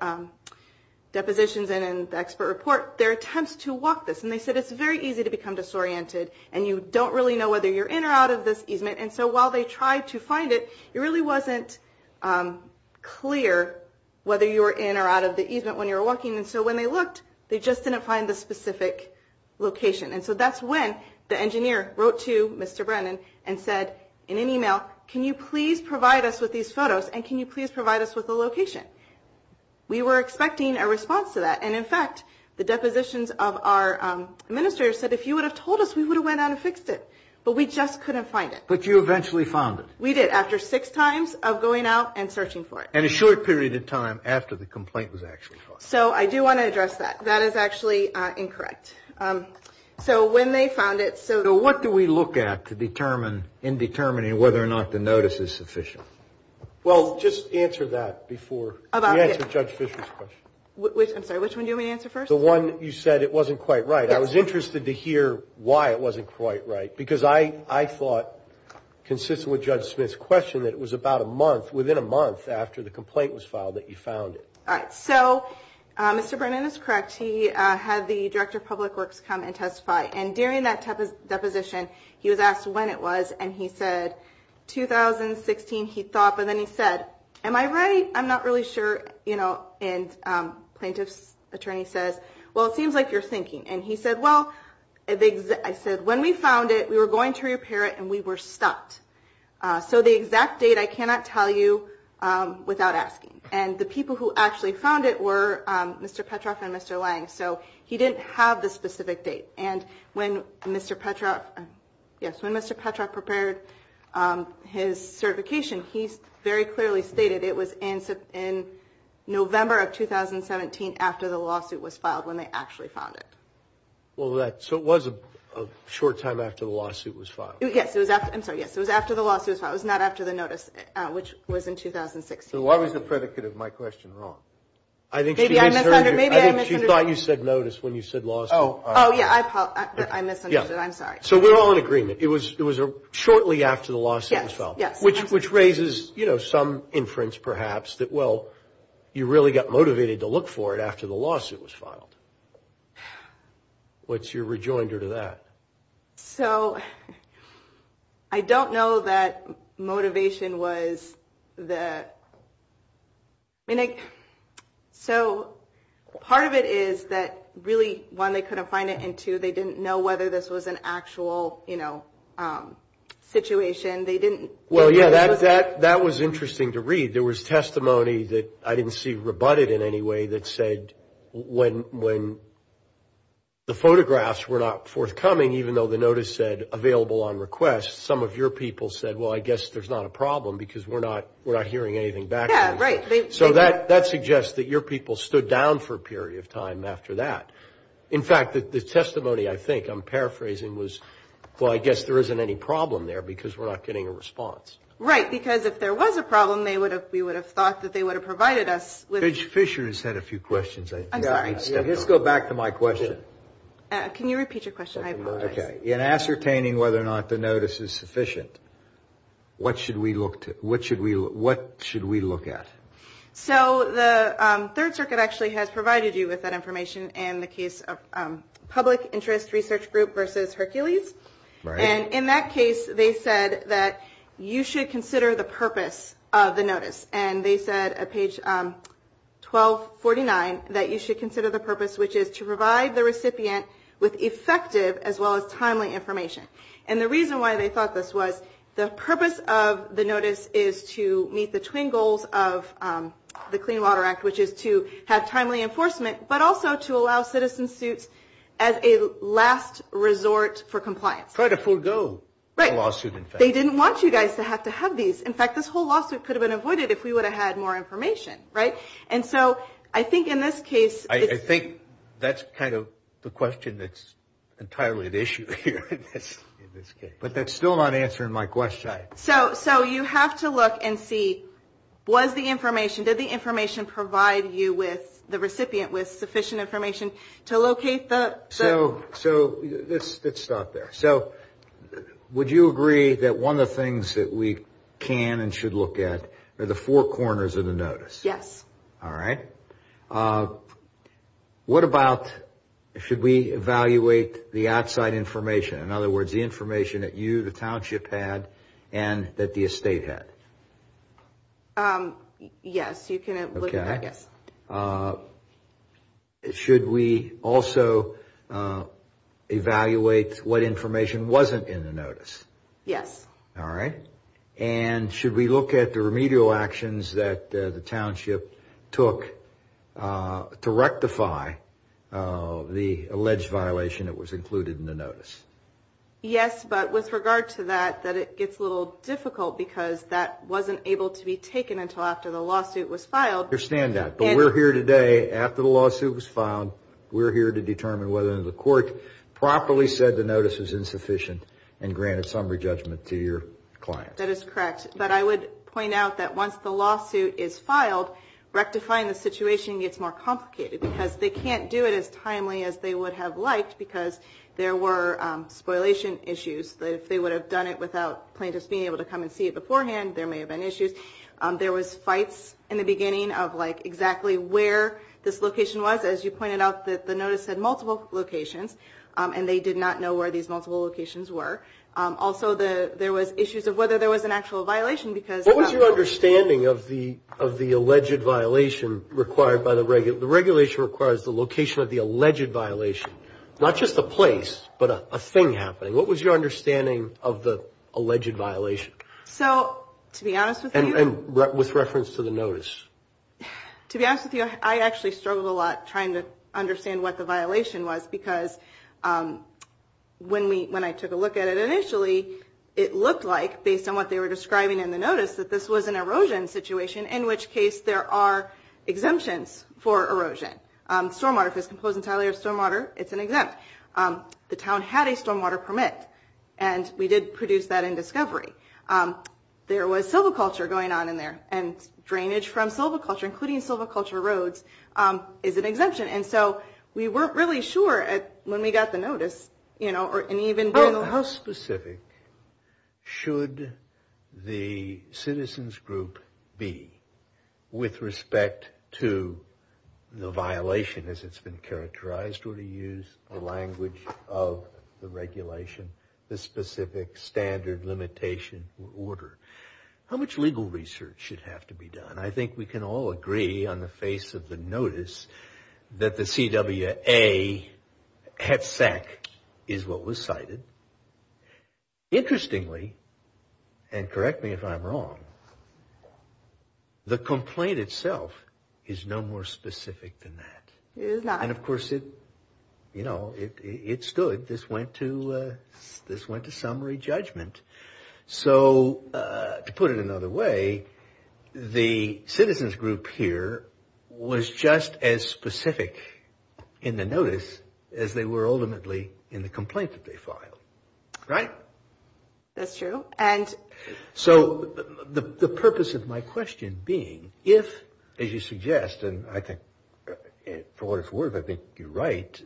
depositions and in the expert report their attempts to walk this, and they said it's very easy to become disoriented and you don't really know whether you're in or out of this easement, and so while they tried to find it, it really wasn't clear whether you were in or out of the easement when you were walking, and so when they looked, they just didn't find the specific location. And so that's when the engineer wrote to Mr. Brennan and said in an e-mail, can you please provide us with these photos and can you please provide us with the location? We were expecting a response to that, and in fact, the depositions of our minister said, if you would have told us, we would have went out and fixed it, but we just couldn't find it. But you eventually found it. We did, after six times of going out and searching for it. And a short period of time after the complaint was actually filed. So I do want to address that. That is actually incorrect. So when they found it, so to what do we look at to determine, in determining whether or not the notice is sufficient? Well, just answer that before we answer Judge Fisher's question. I'm sorry, which one do we answer first? The one you said it wasn't quite right. I was interested to hear why it wasn't quite right. Because I thought, consistent with Judge Smith's question, that it was about a month, within a month, after the complaint was filed that you found it. All right. So Mr. Brennan is correct. He had the Director of Public Works come and testify. And during that deposition, he was asked when it was, and he said 2016, he thought. But then he said, am I right? I'm not really sure. And plaintiff's attorney said, well, it seems like you're thinking. And he said, well, I said, when we found it, we were going to repair it, and we were stopped. So the exact date I cannot tell you without asking. And the people who actually found it were Mr. Petroff and Mr. Lang. So he didn't have the specific date. And when Mr. Petroff, yes, when Mr. Petroff prepared his certification, he very clearly stated it was in November of 2017, after the lawsuit was filed, when they actually found it. Well, so it was a short time after the lawsuit was filed. Yes. I'm sorry, yes. It was after the lawsuit was filed. It was not after the notice, which was in 2016. So why was the predicate of my question wrong? Maybe I misunderstood. I think she thought you said notice when you said lawsuit. Oh, yeah. I misunderstood. I'm sorry. So we're all in agreement. It was shortly after the lawsuit was filed. Yes. Which raises, you know, some inference perhaps that, well, you really got motivated to look for it after the lawsuit was filed. What's your rejoinder to that? So I don't know that motivation was the – so part of it is that really, one, they couldn't find it, and two, they didn't know whether this was an actual, you know, situation. Well, yeah, that was interesting to read. There was testimony that I didn't see rebutted in any way that said when the photographs were not forthcoming, even though the notice said available on request, some of your people said, well, I guess there's not a problem because we're not hearing anything back. Yeah, right. So that suggests that your people stood down for a period of time after that. In fact, the testimony I think I'm paraphrasing was, well, I guess there isn't any problem there because we're not getting a response. Right, because if there was a problem, we would have thought that they would have provided us with – Fischer has had a few questions. Let's go back to my question. Can you repeat your question? Okay. In ascertaining whether or not the notice is sufficient, what should we look at? So the Third Circuit actually has provided you with that information in the case of public interest research group versus Hercules. Right. And in that case, they said that you should consider the purpose of the notice. And they said at page 1249 that you should consider the purpose, which is to provide the recipient with effective as well as timely information. And the reason why they thought this was the purpose of the notice is to meet the twin goals of the Clean Water Act, which is to have timely enforcement, but also to allow citizen suits as a last resort for compliance. Right. To try to forego lawsuits, in fact. They didn't want you guys to have to have these. In fact, this whole lawsuit could have been avoided if we would have had more information, right? And so I think in this case – I think that's kind of the question that's entirely at issue here in this case. But that's still not answering my question. So you have to look and see was the information – did the information provide you with the recipient with sufficient information to locate the – So let's stop there. So would you agree that one of the things that we can and should look at are the four corners of the notice? Yes. All right. What about should we evaluate the outside information? In other words, the information that you, the township, had and that the estate had? Yes, you can look at it. Okay. Should we also evaluate what information wasn't in the notice? Yes. All right. And should we look at the remedial actions that the township took to rectify the alleged violation that was included in the notice? Yes, but with regard to that, that it gets a little difficult because that wasn't able to be taken until after the lawsuit was filed. I understand that. But we're here today after the lawsuit was filed. We're here to determine whether the court properly said the notice was insufficient and granted summary judgment to your client. That is correct. But I would point out that once the lawsuit is filed, rectifying the situation gets more complicated because they can't do it as timely as they would have liked because there were spoliation issues. If they would have done it without plaintiffs being able to come and see it beforehand, there may have been issues. There was fights in the beginning of, like, exactly where this location was. As you pointed out, the notice had multiple locations, and they did not know where these multiple locations were. Also, there was issues of whether there was an actual violation because- What was your understanding of the alleged violation required by the regulation? The regulation requires the location of the alleged violation, not just the place, but a thing happening. What was your understanding of the alleged violation? To be honest with you- And with reference to the notice. To be honest with you, I actually struggled a lot trying to understand what the violation was because when I took a look at it initially, it looked like, based on what they were describing in the notice, that this was an erosion situation, in which case there are exemptions for erosion. Stormwater, if there's some closed-entirely stormwater, it's an exempt. The town had a stormwater permit, and we did produce that in discovery. There was silviculture going on in there, and drainage from silviculture, including silviculture roads, is an exemption. And so we weren't really sure when we got the notice. How specific should the citizens group be with respect to the violation as it's been characterized, or to use the language of the regulation, the specific standard limitation or order? How much legal research should have to be done? I think we can all agree, on the face of the notice, that the CWA HEDFAC is what was cited. Interestingly, and correct me if I'm wrong, the complaint itself is no more specific than that. And of course, it stood. This went to summary judgment. So to put it another way, the citizens group here was just as specific in the notice as they were ultimately in the complaint that they filed. Right? That's true. So the purpose of my question being, if, as you suggest, and I think for what it's worth, I think you're right,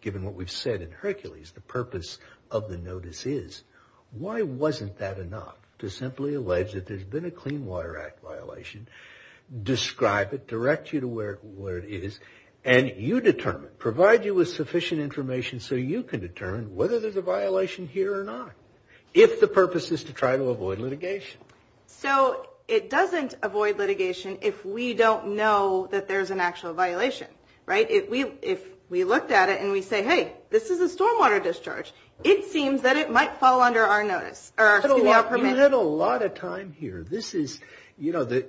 given what we've said in Hercules, the purpose of the notice is, why wasn't that enough to simply allege that there's been a Clean Water Act violation, describe it, direct you to where it is, and you determine, provide you with sufficient information so you can determine whether there's a violation here or not, if the purpose is to try to avoid litigation. So it doesn't avoid litigation if we don't know that there's an actual violation. Right? If we looked at it and we say, hey, this is a stormwater discharge, it seems that it might fall under our notice, or Clean Water Permit. We had a lot of time here. This is, you know,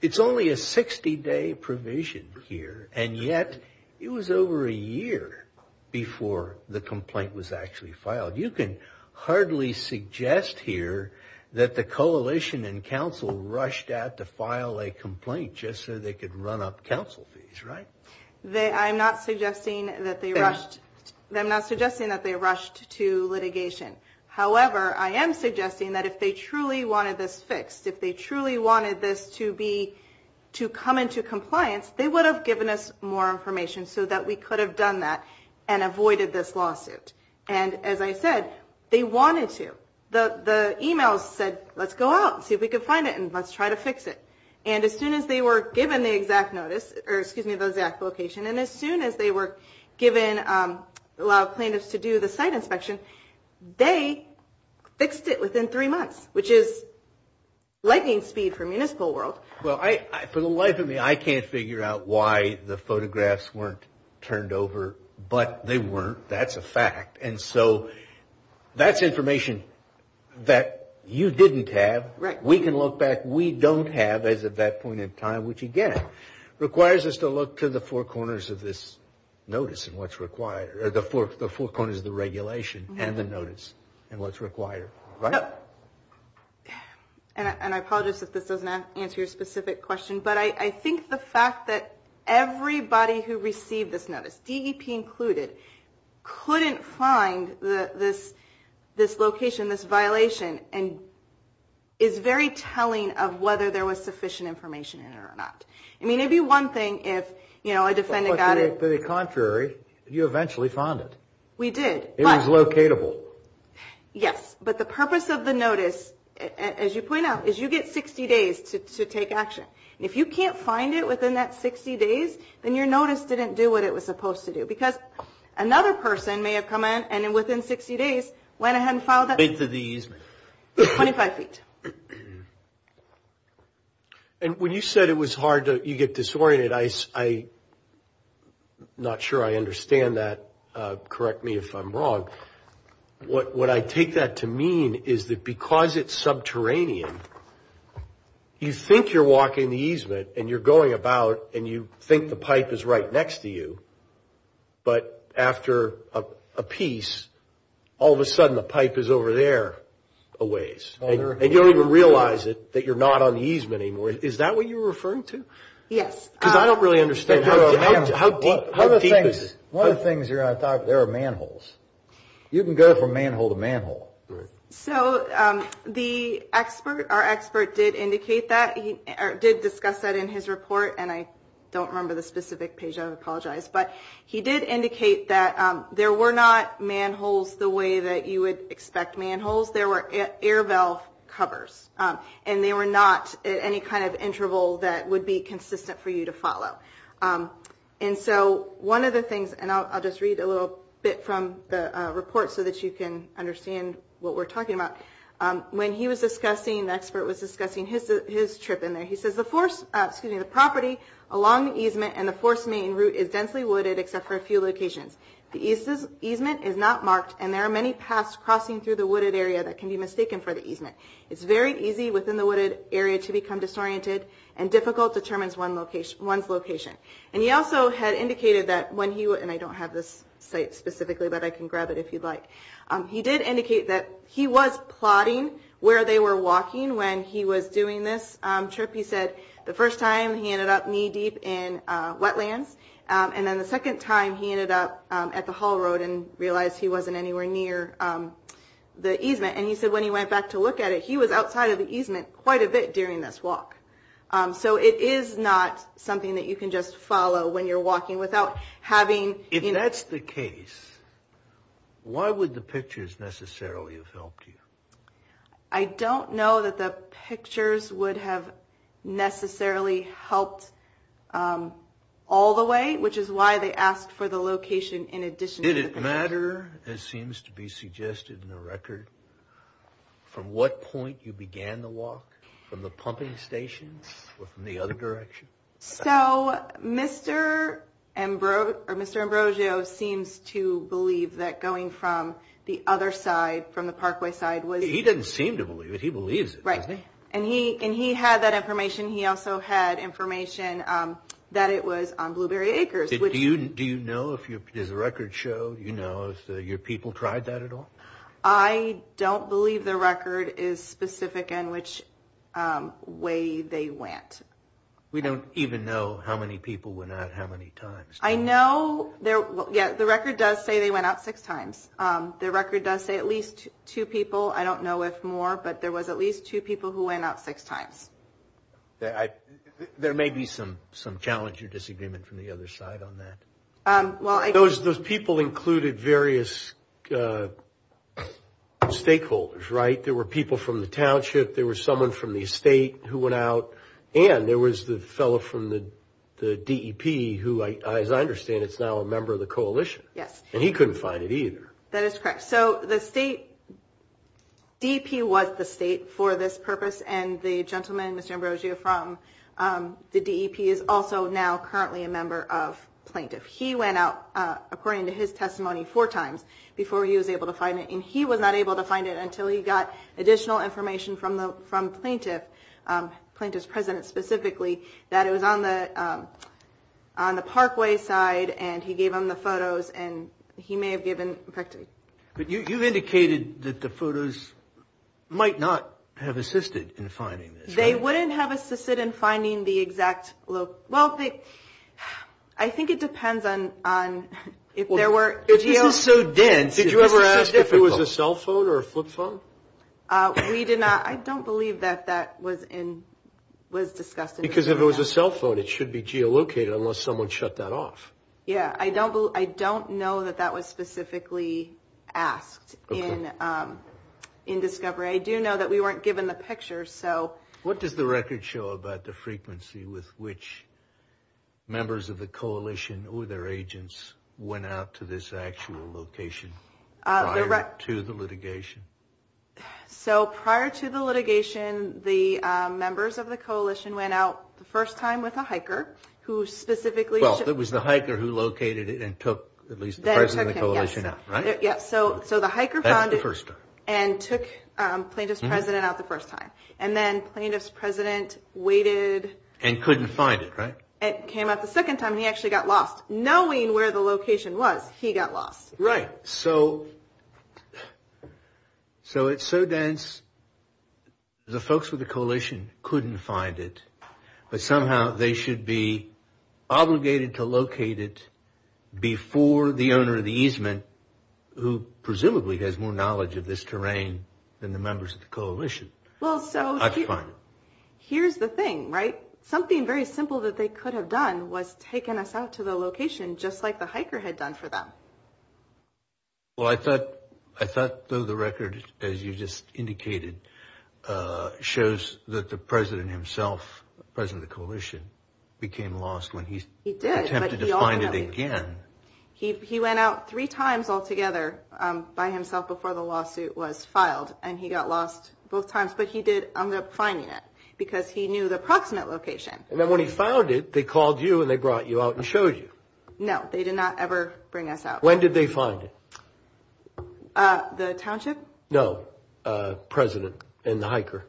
it's only a 60-day provision here, and yet it was over a year before the complaint was actually filed. You can hardly suggest here that the coalition and council rushed out to file a complaint just so they could run up council fees, right? I'm not suggesting that they rushed to litigation. However, I am suggesting that if they truly wanted this fixed, if they truly wanted this to come into compliance, they would have given us more information so that we could have done that and avoided this lawsuit. And as I said, they wanted to. The email said, let's go out, see if we can find it, and let's try to fix it. And as soon as they were given the exact notice, or excuse me, the exact location, and as soon as they were given a lot of plaintiffs to do the site inspection, they fixed it within three months, which is lightning speed for municipal world. Well, for the life of me, I can't figure out why the photographs weren't turned over. But they weren't. That's a fact. And so that's information that you didn't have. Right. We can look back. We don't have, as of that point in time, which, again, requires us to look to the four corners of this notice and what's required, or the four corners of the regulation and the notice and what's required. Right? And I apologize if this doesn't answer your specific question, but I think the fact that everybody who received this notice, DEP included, couldn't find this location, this violation, is very telling of whether there was sufficient information in it or not. I mean, it'd be one thing if a defendant got it. To the contrary, you eventually found it. We did. It was locatable. Yes. But the purpose of the notice, as you point out, is you get 60 days to take action. If you can't find it within that 60 days, then your notice didn't do what it was supposed to do because another person may have come in and, within 60 days, went ahead and filed it. Into the easement. 25 feet. And when you said it was hard to get disoriented, I'm not sure I understand that. Correct me if I'm wrong. What I take that to mean is that because it's subterranean, you think you're walking the easement and you're going about and you think the pipe is right next to you, but after a piece, all of a sudden the pipe is over there a ways. And you don't even realize it, that you're not on the easement anymore. Is that what you're referring to? Yes. Because I don't really understand how deep is it? One of the things here, I thought, there are manholes. You can go from manhole to manhole. So the expert, our expert, did indicate that. He did discuss that in his report, and I don't remember the specific page. I apologize. But he did indicate that there were not manholes the way that you would expect manholes. There were air valve covers, and they were not at any kind of interval that would be consistent for you to follow. And so one of the things, and I'll just read a little bit from the report so that you can understand what we're talking about. When he was discussing, the expert was discussing his trip in there. He says, the force, excuse me, the property along the easement and the force main route is densely wooded except for a few locations. The easement is not marked, and there are many paths crossing through the wooded area that can be mistaken for the easement. It's very easy within the wooded area to become disoriented, and difficult determines one's location. And he also had indicated that when he, and I don't have this site specifically, but I can grab it if you'd like. He did indicate that he was plotting where they were walking when he was doing this trip. He said the first time he ended up knee deep in wetlands, and then the second time he ended up at the haul road and realized he wasn't anywhere near the easement. And he said when he went back to look at it, he was outside of the easement quite a bit during this walk. So it is not something that you can just follow when you're walking without having... If that's the case, why would the pictures necessarily have helped you? I don't know that the pictures would have necessarily helped all the way, which is why they asked for the location in addition to... Did it matter, it seems to be suggested in the record, from what point you began the walk, from the pumping station or from the other direction? So Mr. Ambrosio seems to believe that going from the other side, from the parkway side... He doesn't seem to believe it, he believes it. Right, and he had that information. He also had information that it was on Blueberry Acres. Do you know if there's a record show? Do you know if your people tried that at all? I don't believe the record is specific in which way they went. We don't even know how many people went out how many times. I know... Yes, the record does say they went out six times. The record does say at least two people, I don't know if more, but there was at least two people who went out six times. There may be some challenge or disagreement from the other side on that. Those people included various stakeholders, right? There were people from the township, there was someone from the state who went out, and there was the fellow from the DEP who, as I understand it, is now a member of the coalition. Yes. And he couldn't find it either. That is correct. So the state, DEP was the state for this purpose, and the gentleman, Mr. Ambrosio, from the DEP is also now currently a member of plaintiffs. He went out, according to his testimony, four times before he was able to find it, and he was not able to find it until he got additional information from plaintiffs, plaintiffs' presence specifically, that it was on the parkway side, and he gave them the photos, and he may have given... You indicated that the photos might not have assisted in finding this, right? They wouldn't have assisted in finding the exact... Well, I think it depends on if there were... If it was so dense, it must have been difficult. Did you ever ask if it was a cell phone or a flip phone? We did not. I don't believe that that was discussed. Because if it was a cell phone, it should be geolocated unless someone shut that off. Yes. I don't know that that was specifically asked in discovery. I do know that we weren't given the pictures, so... What does the record show about the frequency with which members of the coalition or their agents went out to this actual location prior to the litigation? So prior to the litigation, the members of the coalition went out the first time with a hiker who specifically... Well, it was the hiker who located it and took at least the president of the coalition out, right? Yes. So the hiker found it and took plaintiff's president out the first time, and then plaintiff's president waited... And couldn't find it, right? And came out the second time, and he actually got lost. Knowing where the location was, he got lost. Right. So it's so dense, the folks with the coalition couldn't find it, but somehow they should be obligated to locate it before the owner of the easement, who presumably has more knowledge of this terrain than the members of the coalition, had to find it. Here's the thing, right? Something very simple that they could have done was taken us out to the location, just like the hiker had done for them. Well, I thought the record, as you just indicated, shows that the president himself, the president of the coalition, became lost when he attempted to find it again. He went out three times altogether by himself before the lawsuit was filed, and he got lost both times. But he did end up finding it because he knew the approximate location. And then when he found it, they called you and they brought you out and showed you. No, they did not ever bring us out. When did they find it? The township? No, president and the hiker.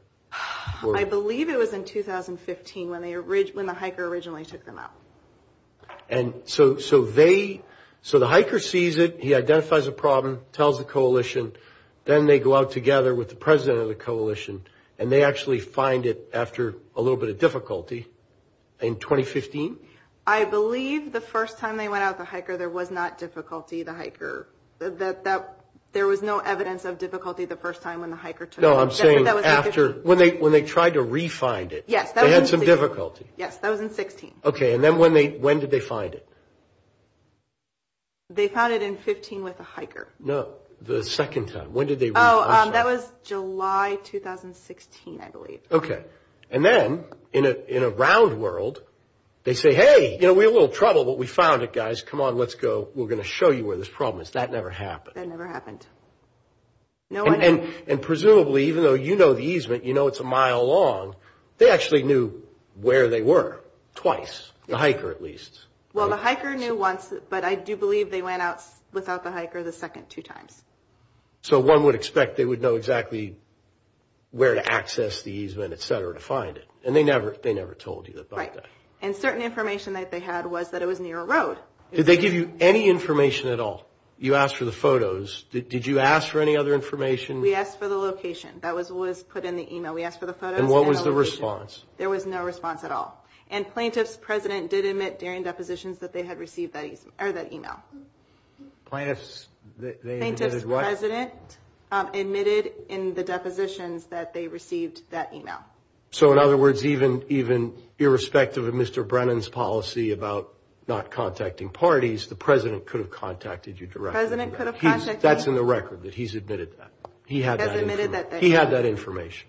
I believe it was in 2015 when the hiker originally took them out. And so they – so the hiker sees it, he identifies the problem, tells the coalition, then they go out together with the president of the coalition, and they actually find it after a little bit of difficulty in 2015? I believe the first time they went out with the hiker, there was not difficulty. The hiker – there was no evidence of difficulty the first time when the hiker took them out. No, I'm saying after – when they tried to re-find it. Yes. They had some difficulty. Yes, that was in 16. Okay, and then when did they find it? They found it in 15 with the hiker. No, the second time. When did they – Oh, that was July 2016, I believe. Okay. And then in a round world, they say, hey, you know, we're in a little trouble, but we found it, guys. Come on, let's go. We're going to show you where this problem is. That never happened. That never happened. And presumably, even though you know the easement, you know it's a mile long, they actually knew where they were twice, the hiker at least. Well, the hiker knew once, but I do believe they went out without the hiker the second two times. So one would expect they would know exactly where to access the easement, et cetera, to find it. And they never told you that. Right. And certain information that they had was that it was near a road. Did they give you any information at all? You asked for the photos. Did you ask for any other information? We asked for the location. That was what was put in the email. We asked for the photos. And what was the response? There was no response at all. And plaintiff's president did admit during depositions that they had received that email. Plaintiff's they admitted what? Plaintiff's president admitted in the depositions that they received that email. So in other words, even irrespective of Mr. Brennan's policy about not contacting parties, the president could have contacted you directly. The president could have contacted me. That's in the record that he's admitted that. He had that information.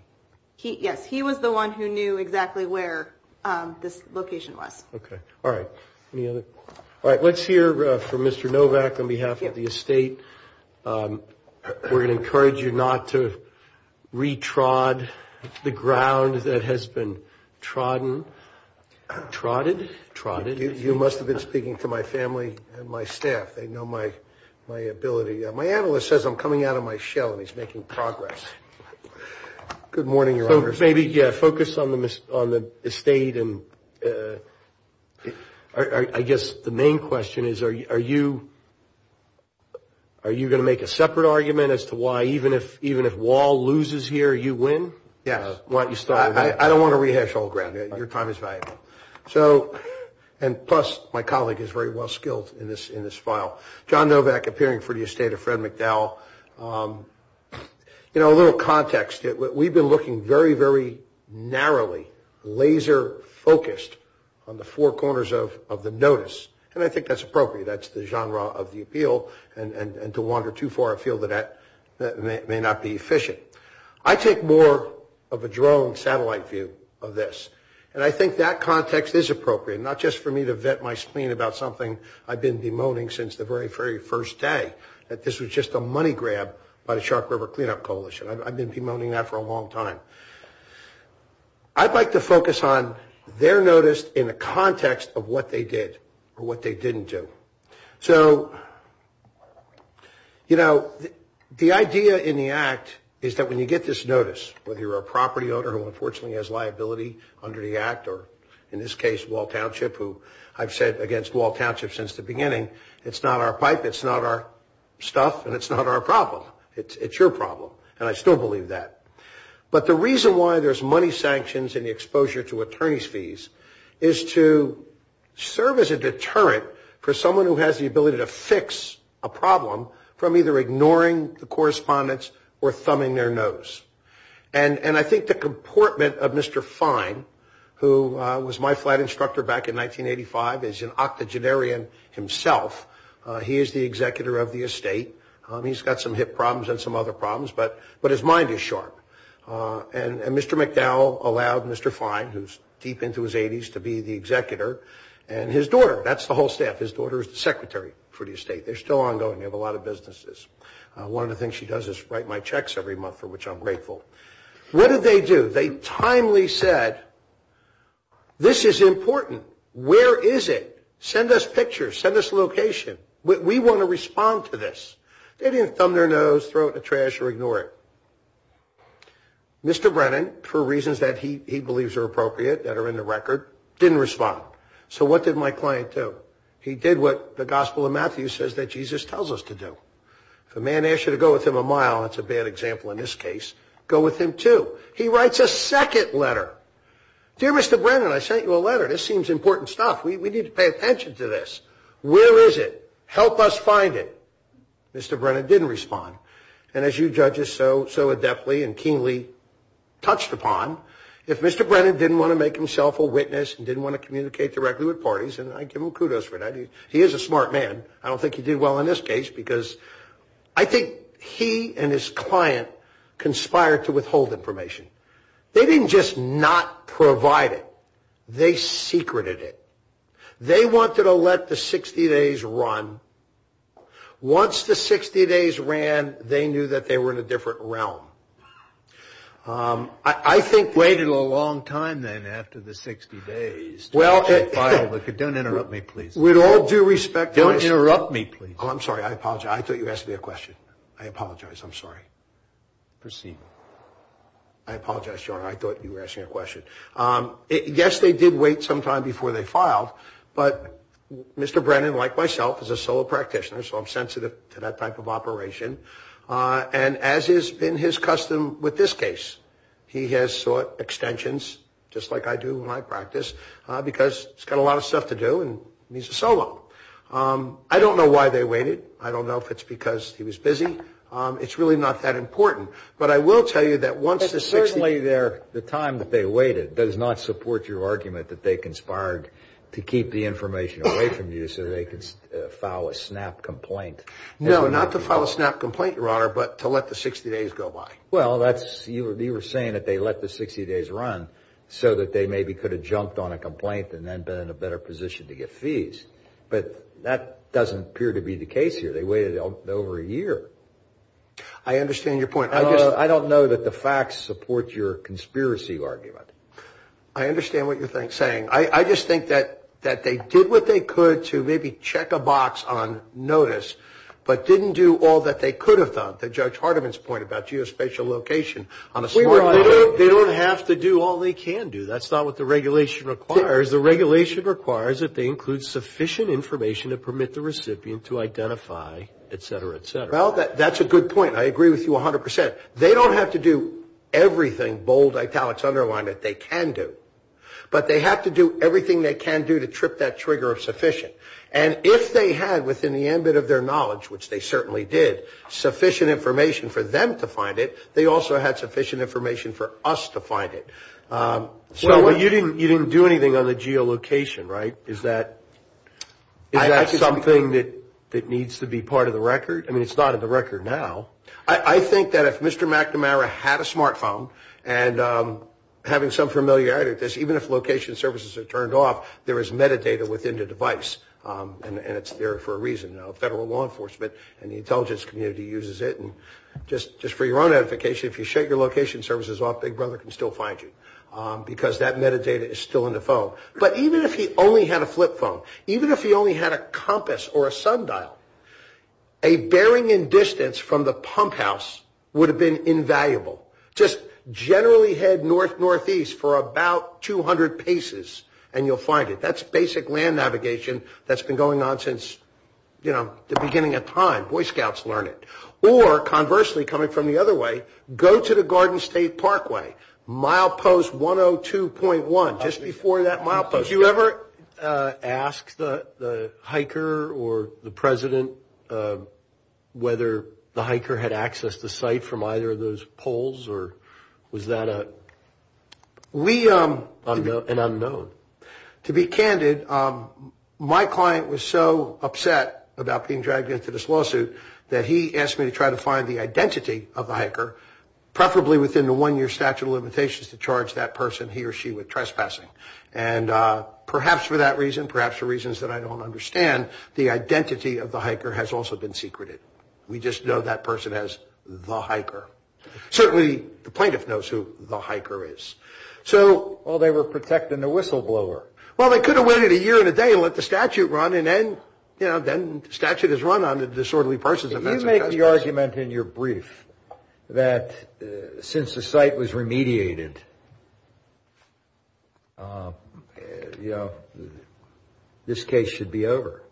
Yes. He was the one who knew exactly where this location was. Okay. All right. Any other? All right. Let's hear from Mr. Novak on behalf of the estate. We're going to encourage you not to retrod the ground that has been trodden. Trotted? Trotted. You must have been speaking to my family and my staff. They know my ability. My analyst says I'm coming out of my shell and he's making progress. Good morning, Your Honor. Focus on the estate. I guess the main question is are you going to make a separate argument as to why, even if Wall loses here, you win? Yes. I don't want to rehash old ground. Your time is valuable. And plus, my colleague is very well skilled in this file. John Novak appearing for the estate of Fred McDowell. You know, a little context. We've been looking very, very narrowly, laser focused on the four corners of the notice. And I think that's appropriate. That's the genre of the appeal. And to wander too far, I feel that may not be efficient. I take more of a drone satellite view of this. And I think that context is appropriate, not just for me to vet my spleen about something I've been bemoaning since the very, very first day, that this was just a money grab by the Shark River Cleanup Coalition. I've been bemoaning that for a long time. I'd like to focus on their notice in the context of what they did or what they didn't do. So, you know, the idea in the act is that when you get this notice, whether you're a property owner who unfortunately has liability under the act or in this case, Wall Township, who I've said against Wall Township since the beginning, it's not our pipe, it's not our stuff, and it's not our problem. It's your problem. And I still believe that. But the reason why there's money sanctions and the exposure to attorney's fees is to serve as a deterrent for someone who has the ability to fix a problem from either ignoring the correspondence or thumbing their nose. And I think the comportment of Mr. Fine, who was my flight instructor back in 1985, is an octogenarian himself. He is the executor of the estate. He's got some hip problems and some other problems, but his mind is sharp. And Mr. McDowell allowed Mr. Fine, who's deep into his 80s, to be the executor, and his daughter. That's the whole staff. His daughter is the secretary for the estate. They're still ongoing. They have a lot of businesses. One of the things she does is write my checks every month, for which I'm grateful. What did they do? They timely said, this is important. Where is it? Send us pictures. Send us a location. We want to respond to this. They didn't thumb their nose, throw it in the trash, or ignore it. Mr. Brennan, for reasons that he believes are appropriate, that are in the record, didn't respond. So what did my client do? He did what the Gospel of Matthew says that Jesus tells us to do. If a man asks you to go with him a mile, that's a bad example in this case, go with him too. He writes a second letter. Dear Mr. Brennan, I sent you a letter. This seems important stuff. We need to pay attention to this. Where is it? Help us find it. Mr. Brennan didn't respond. And as you judges so adeptly and keenly touched upon, if Mr. Brennan didn't want to make himself a witness, he didn't want to communicate directly with parties, and I give him kudos for that. He is a smart man. I don't think he did well in this case because I think he and his client conspired to withhold information. They didn't just not provide it. They secreted it. They wanted to let the 60 days run. Once the 60 days ran, they knew that they were in a different realm. I think we waited a long time then after the 60 days. Don't interrupt me, please. With all due respect. Don't interrupt me, please. I'm sorry. I apologize. I thought you asked me a question. I apologize. I'm sorry. Proceed. I apologize. I thought you were asking a question. Yes, they did wait some time before they filed, but Mr. Brennan, like myself, is a solo practitioner, so I'm sensitive to that type of operation. And as is in his custom with this case, he has sought extensions, just like I do when I practice, because he's got a lot of stuff to do and he's a solo. I don't know why they waited. I don't know if it's because he was busy. It's really not that important. But I will tell you that once the 60 days… But certainly the time that they waited does not support your argument that they conspired to keep the information away from you so that they could file a snap complaint. No, not to file a snap complaint, Your Honor, but to let the 60 days go by. Well, you were saying that they let the 60 days run so that they maybe could have jumped on a complaint and then been in a better position to get fees. But that doesn't appear to be the case here. They waited over a year. I understand your point. I don't know that the facts support your conspiracy argument. I understand what you're saying. I just think that they did what they could to maybe check a box on notice but didn't do all that they could have done. That's Judge Hardiman's point about geospatial location. They don't have to do all they can do. That's not what the regulation requires. The regulation requires that they include sufficient information to permit the recipient to identify, et cetera, et cetera. Well, that's a good point. I agree with you 100%. They don't have to do everything, bold, italics, underlined, that they can do. But they have to do everything they can do to trip that trigger of sufficient. And if they had within the ambit of their knowledge, which they certainly did, sufficient information for them to find it, they also had sufficient information for us to find it. So you didn't do anything on the geolocation, right? Is that something that needs to be part of the record? I mean, it's not in the record now. I think that if Mr. McNamara had a smartphone and having some familiarity with this, even if location services are turned off, there is metadata within the device. And it's there for a reason. Federal law enforcement and the intelligence community uses it. And just for your own edification, if you shut your location services off, Big Brother can still find you because that metadata is still in the phone. But even if he only had a flip phone, even if he only had a compass or a sundial, a bearing in distance from the pump house would have been invaluable. Just generally head north-northeast for about 200 paces and you'll find it. That's basic land navigation that's been going on since, you know, the beginning of time. Boy Scouts learn it. Or conversely, coming from the other way, go to the Garden State Parkway. Milepost 102.1, just before that milepost. So did you ever ask the hiker or the president whether the hiker had accessed the site from either of those poles? Or was that an unknown? To be candid, my client was so upset about being dragged into this lawsuit that he asked me to try to find the identity of the hiker, preferably within the one-year statute of limitations to charge that person he or she with trespassing. And perhaps for that reason, perhaps for reasons that I don't understand, the identity of the hiker has also been secreted. We just know that person as the hiker. Certainly the plaintiff knows who the hiker is. So... Well, they were protecting the whistleblower. Well, they could have waited a year and a day and let the statute run and then, you know, then the statute is run on disorderly persons. You made the argument in your brief that since the site was remediated, you know, this case should be over.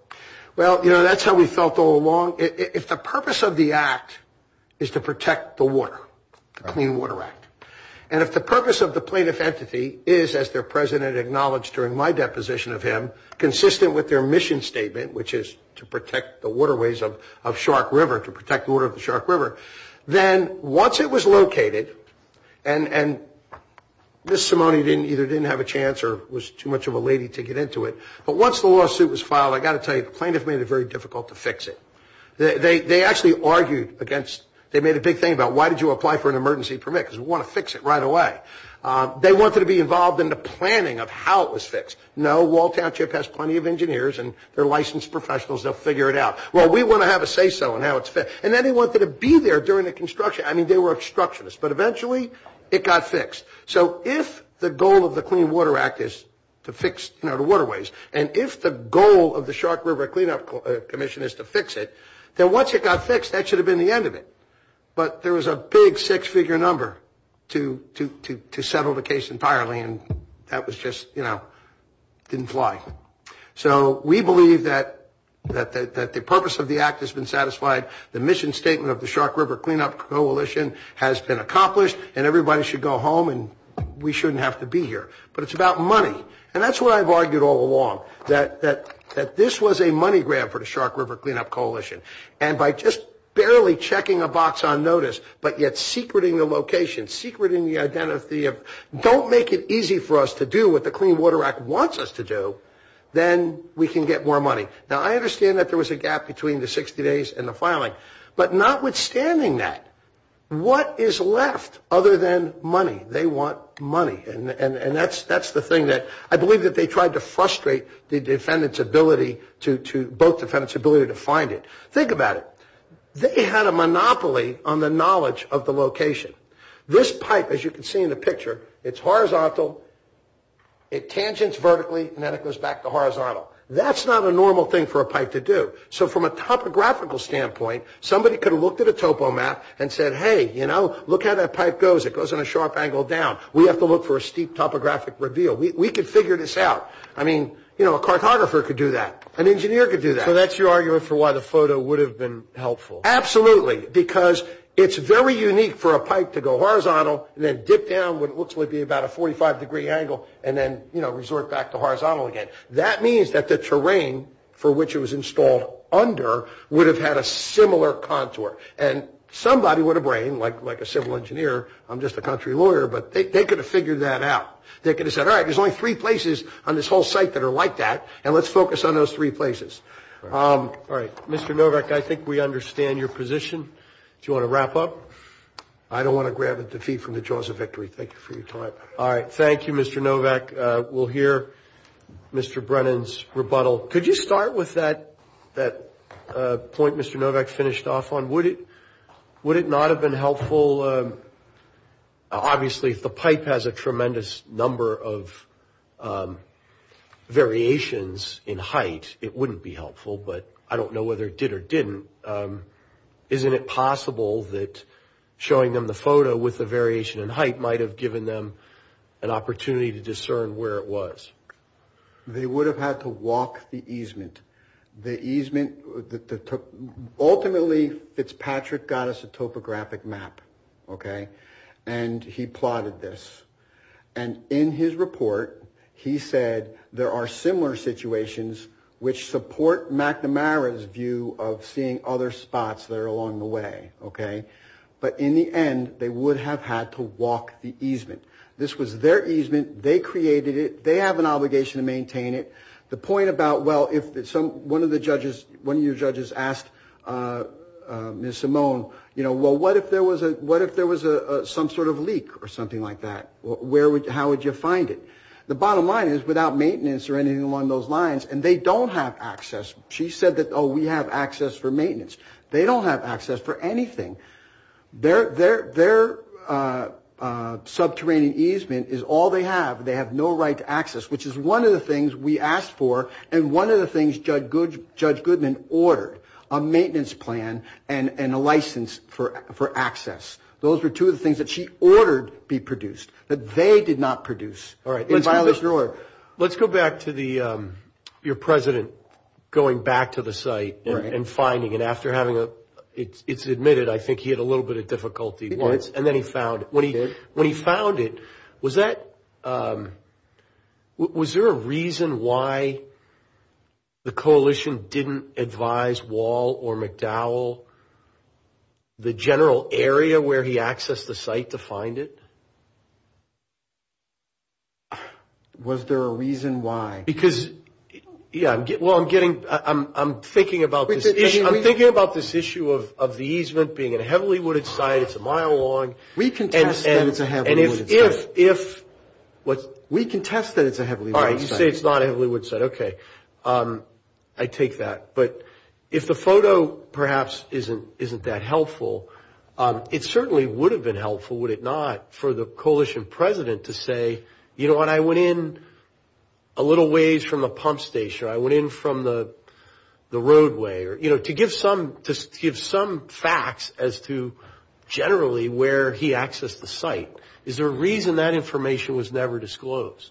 Well, you know, that's how we felt all along. If the purpose of the act is to protect the water, the Clean Water Act, and if the purpose of the plaintiff entity is, as their president acknowledged during my deposition of him, consistent with their mission statement, which is to protect the waterways of Shark River, to protect the water of the Shark River, then once it was located, and Ms. Simone either didn't have a chance or was too much of a lady to get into it, but once the lawsuit was filed, I've got to tell you, the plaintiff made it very difficult to fix it. They actually argued against... They made a big thing about why did you apply for an emergency permit? Because we want to fix it right away. They wanted to be involved in the planning of how it was fixed. No, Walt Township has plenty of engineers and they're licensed professionals. They'll figure it out. Well, we want to have a say-so on how it's fixed. And then they wanted to be there during the construction. I mean, they were obstructionists, but eventually it got fixed. So if the goal of the Clean Water Act is to fix the waterways, and if the goal of the Shark River Cleanup Commission is to fix it, then once it got fixed, that should have been the end of it. But there was a big six-figure number to settle the case entirely, and that was just, you know, didn't fly. So we believe that the purpose of the act has been satisfied. The mission statement of the Shark River Cleanup Coalition has been accomplished, and everybody should go home and we shouldn't have to be here. But it's about money, and that's what I've argued all along, that this was a money grab for the Shark River Cleanup Coalition. And by just barely checking a box on notice, but yet secreting the location, secreting the identity of don't make it easy for us to do what the Clean Water Act wants us to do, then we can get more money. Now, I understand that there was a gap between the 60 days and the filing, but notwithstanding that, what is left other than money? They want money, and that's the thing that I believe that they tried to frustrate the defendant's ability to find it. Think about it. They had a monopoly on the knowledge of the location. This pipe, as you can see in the picture, it's horizontal, it tangents vertically, and then it goes back to horizontal. That's not a normal thing for a pipe to do. So from a topographical standpoint, somebody could have looked at a topomat and said, hey, you know, look how that pipe goes. It goes in a sharp angle down. We have to look for a steep topographic reveal. We could figure this out. I mean, you know, a cartographer could do that. An engineer could do that. So that's your argument for why the photo would have been helpful. Absolutely, because it's very unique for a pipe to go horizontal and then dip down what looks to be about a 45-degree angle and then, you know, resort back to horizontal again. That means that the terrain for which it was installed under would have had a similar contour, and somebody would have brained, like a civil engineer, I'm just a country lawyer, but they could have figured that out. They could have said, all right, there's only three places on this whole site that are like that, and let's focus on those three places. All right. Mr. Novak, I think we understand your position. Do you want to wrap up? I don't want to grab a defeat from the jaws of victory. Thank you for your time. All right. Thank you, Mr. Novak. We'll hear Mr. Brennan's rebuttal. Could you start with that point Mr. Novak finished off on? Would it not have been helpful? Well, obviously, if the pipe has a tremendous number of variations in height, it wouldn't be helpful, but I don't know whether it did or didn't. Isn't it possible that showing them the photo with the variation in height might have given them an opportunity to discern where it was? They would have had to walk the easement. Ultimately, it's Patrick got us a topographic map, and he plotted this. And in his report, he said there are similar situations which support McNamara's view of seeing other spots that are along the way. But in the end, they would have had to walk the easement. This was their easement. They created it. They have an obligation to maintain it. The point about, well, one of your judges asked Ms. Simone, well, what if there was some sort of leak or something like that? How would you find it? The bottom line is without maintenance or anything along those lines, and they don't have access. She said that, oh, we have access for maintenance. They don't have access for anything. Their subterranean easement is all they have. They have no right to access, which is one of the things we asked for, and one of the things Judge Goodman ordered, a maintenance plan and a license for access. Those were two of the things that she ordered be produced, that they did not produce in Violet Brewer. Let's go back to your president going back to the site and finding it. After having it admitted, I think he had a little bit of difficulty once. And then he found it. When he found it, was there a reason why the coalition didn't advise Wall or McDowell the general area where he accessed the site to find it? Was there a reason why? Because, yeah, well, I'm thinking about this issue of the easement being a heavily wooded site. It's a mile long. We contest that it's a heavily wooded site. All right. You say it's not a heavily wooded site. Okay. I take that. But if the photo perhaps isn't that helpful, it certainly would have been helpful, would it not, for the coalition president to say, you know what, I went in a little ways from a pump station or I went in from the roadway, you know, to give some facts as to generally where he accessed the site. Is there a reason that information was never disclosed?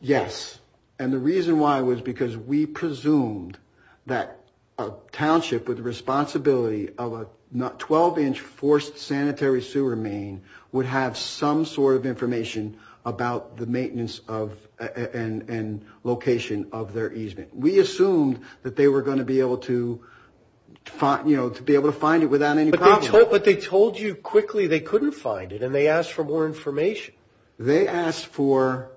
Yes. And the reason why was because we presumed that a township with the responsibility of a 12-inch forced sanitary sewer main would have some sort of information about the maintenance and location of their easement. We assumed that they were going to be able to, you know, to be able to find it without any problem. But they told you quickly they couldn't find it and they asked for more information. They asked for,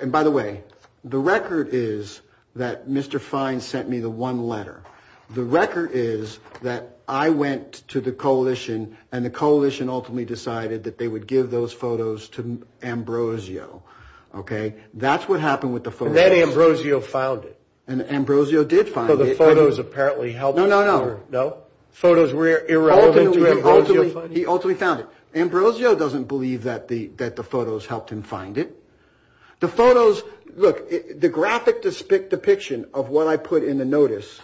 and by the way, the record is that Mr. Fine sent me the one letter. The record is that I went to the coalition and the coalition ultimately decided that they would give those photos to Ambrosio. Okay. That's what happened with the photos. And Ambrosio filed it. And Ambrosio did file it. Well, the photos apparently helped him. No, no, no. No? Photos were irrelevant to Ambrosio. He ultimately found it. Ambrosio doesn't believe that the photos helped him find it. The photos, look, the graphic depiction of what I put in the notice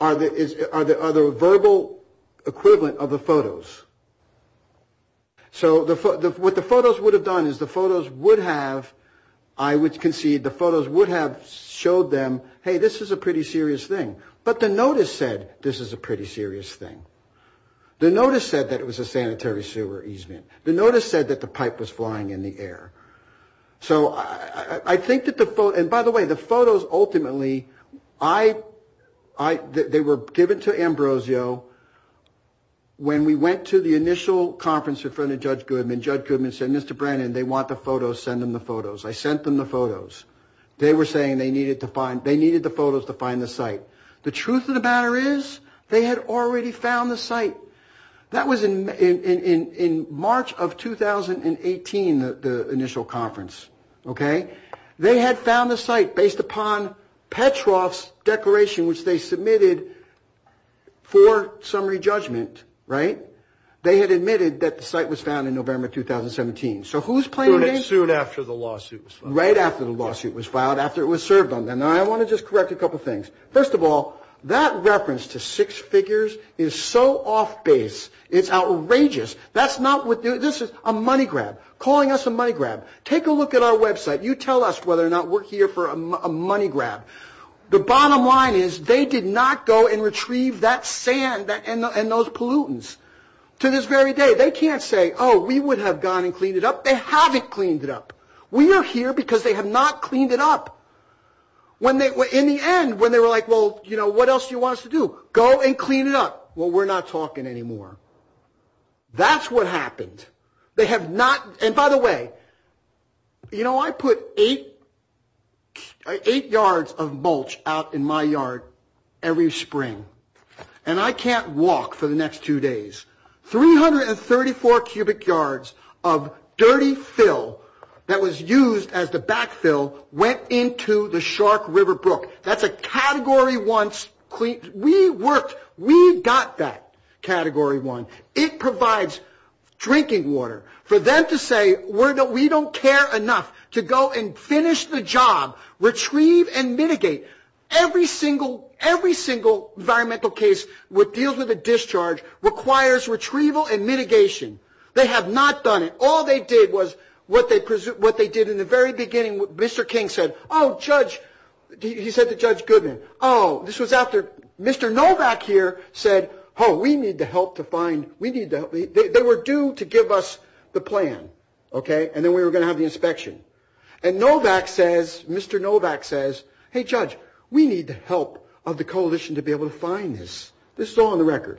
are the verbal equivalent of the photos. So what the photos would have done is the photos would have, I would concede, the photos would have showed them, hey, this is a pretty serious thing. But the notice said this is a pretty serious thing. The notice said that it was a sanitary sewer easement. The notice said that the pipe was flying in the air. So I think that the photo, and by the way, the photos ultimately, they were given to Ambrosio when we went to the initial conference in front of Judge Goodman. Judge Goodman said, Mr. Brennan, they want the photos. Send them the photos. I sent them the photos. They were saying they needed the photos to find the site. The truth of the matter is they had already found the site. That was in March of 2018, the initial conference. Okay? They had found the site based upon Petroff's declaration, which they submitted for summary judgment, right? They had admitted that the site was found in November 2017. So who's playing this? Who had sued after the lawsuit was filed. Right after the lawsuit was filed, after it was served on them. And I want to just correct a couple things. First of all, that reference to six figures is so off base. It's outrageous. That's not what this is, a money grab, calling us a money grab. Take a look at our website. You tell us whether or not we're here for a money grab. The bottom line is they did not go and retrieve that sand and those pollutants to this very day. They can't say, oh, we would have gone and cleaned it up. They haven't cleaned it up. We are here because they have not cleaned it up. In the end, when they were like, well, you know, what else do you want us to do? Go and clean it up. Well, we're not talking anymore. That's what happened. And by the way, you know, I put eight yards of mulch out in my yard every spring, and I can't walk for the next two days. Three hundred and thirty-four cubic yards of dirty fill that was used as the backfill went into the Shark River Brook. That's a Category 1. We worked. We got that Category 1. It provides drinking water for them to say we don't care enough to go and finish the job, retrieve and mitigate. Every single environmental case that deals with a discharge requires retrieval and mitigation. They have not done it. All they did was what they did in the very beginning. Mr. King said, oh, Judge, he said to Judge Goodman, oh, this was after Mr. Novak here said, oh, we need the help to find – they were due to give us the plan, okay, and then we were going to have the inspection. And Novak says, Mr. Novak says, hey, Judge, we need the help of the coalition to be able to find this. This is all on the record.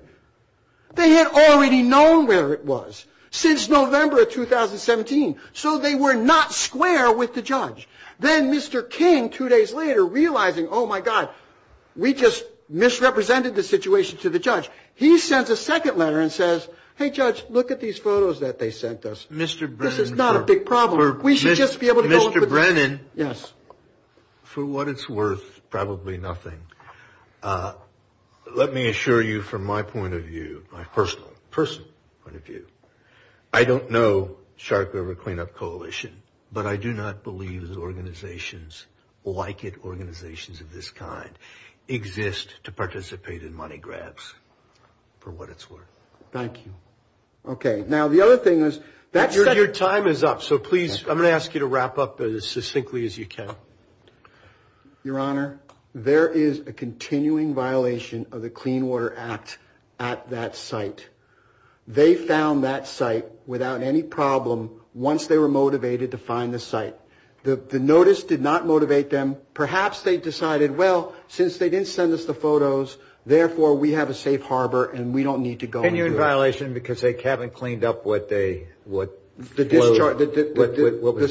They had already known where it was since November of 2017, so they were not square with the judge. Then Mr. King, two days later, realizing, oh, my God, we just misrepresented the situation to the judge, he sent a second letter and says, hey, Judge, look at these photos that they sent us. This is not a big problem. We should just be able to – Mr. Brennan, for what it's worth, probably nothing. Let me assure you from my point of view, my personal point of view, I don't know Shark River Cleanup Coalition, but I do not believe that organizations like it, organizations of this kind, exist to participate in money grabs, for what it's worth. Thank you. Okay. Now, the other thing is – Your time is up, so please, I'm going to ask you to wrap up as succinctly as you can. Your Honor, there is a continuing violation of the Clean Water Act at that site. They found that site without any problem once they were motivated to find the site. The notice did not motivate them. Perhaps they decided, well, since they didn't send us the photos, therefore we have a safe harbor and we don't need to go into it. Continuing violation because they haven't cleaned up what they –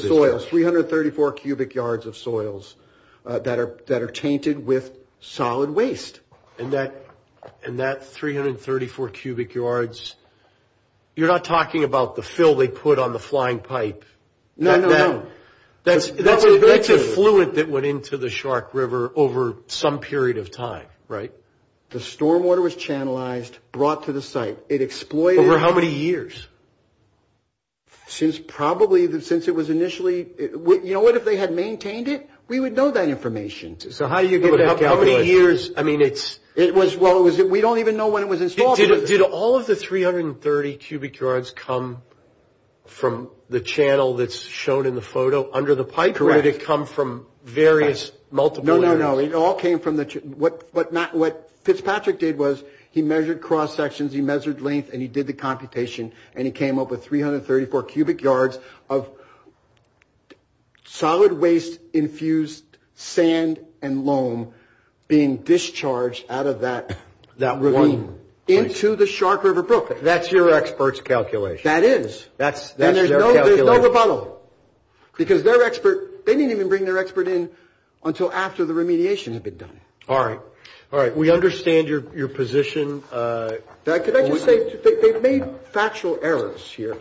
The soils, 334 cubic yards of soils that are tainted with solid waste. And that 334 cubic yards, you're not talking about the fill they put on the flying pipe. No, no, no. That's a fluent that went into the Shark River over some period of time, right? The stormwater was channelized, brought to the site. It exploited – Over how many years? Since probably – since it was initially – you know what? If they had maintained it, we would know that information. So how do you get that – Over how many years? I mean, it's – It was – well, we don't even know when it was installed. Did all of the 330 cubic yards come from the channel that's shown in the photo under the pipe? Correct. Or did it come from various multiple units? No, no, no. It all came from the – what Fitzpatrick did was he measured cross-sections, he measured length, and he did the computation, and he came up with 334 cubic yards of solid waste-infused sand and loam being discharged out of that – That loam. Into the Shark River perfect. That's your expert's calculation. That is. That's their calculation. And there's no rebuttal because their expert – they didn't even bring their expert in until after the remediation had been done. All right. All right. We understand your position. Can I just say – they've made factual errors here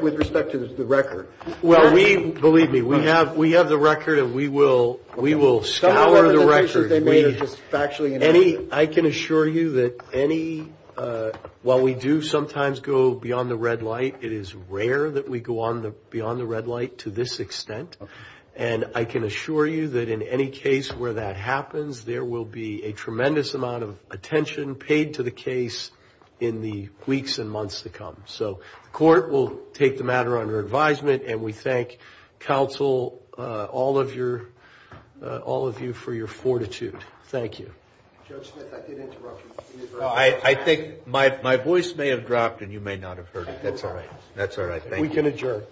with respect to the record. Well, we – believe me, we have the record and we will – we will – Some of the pieces they made are just factually inaccurate. I can assure you that any – while we do sometimes go beyond the red light, it is rare that we go beyond the red light to this extent. And I can assure you that in any case where that happens, there will be a tremendous amount of attention paid to the case in the weeks and months to come. So the court will take the matter under advisement, and we thank counsel, all of your – all of you for your fortitude. Thank you. I think my voice may have dropped and you may not have heard it. That's all right. That's all right. We can adjourn.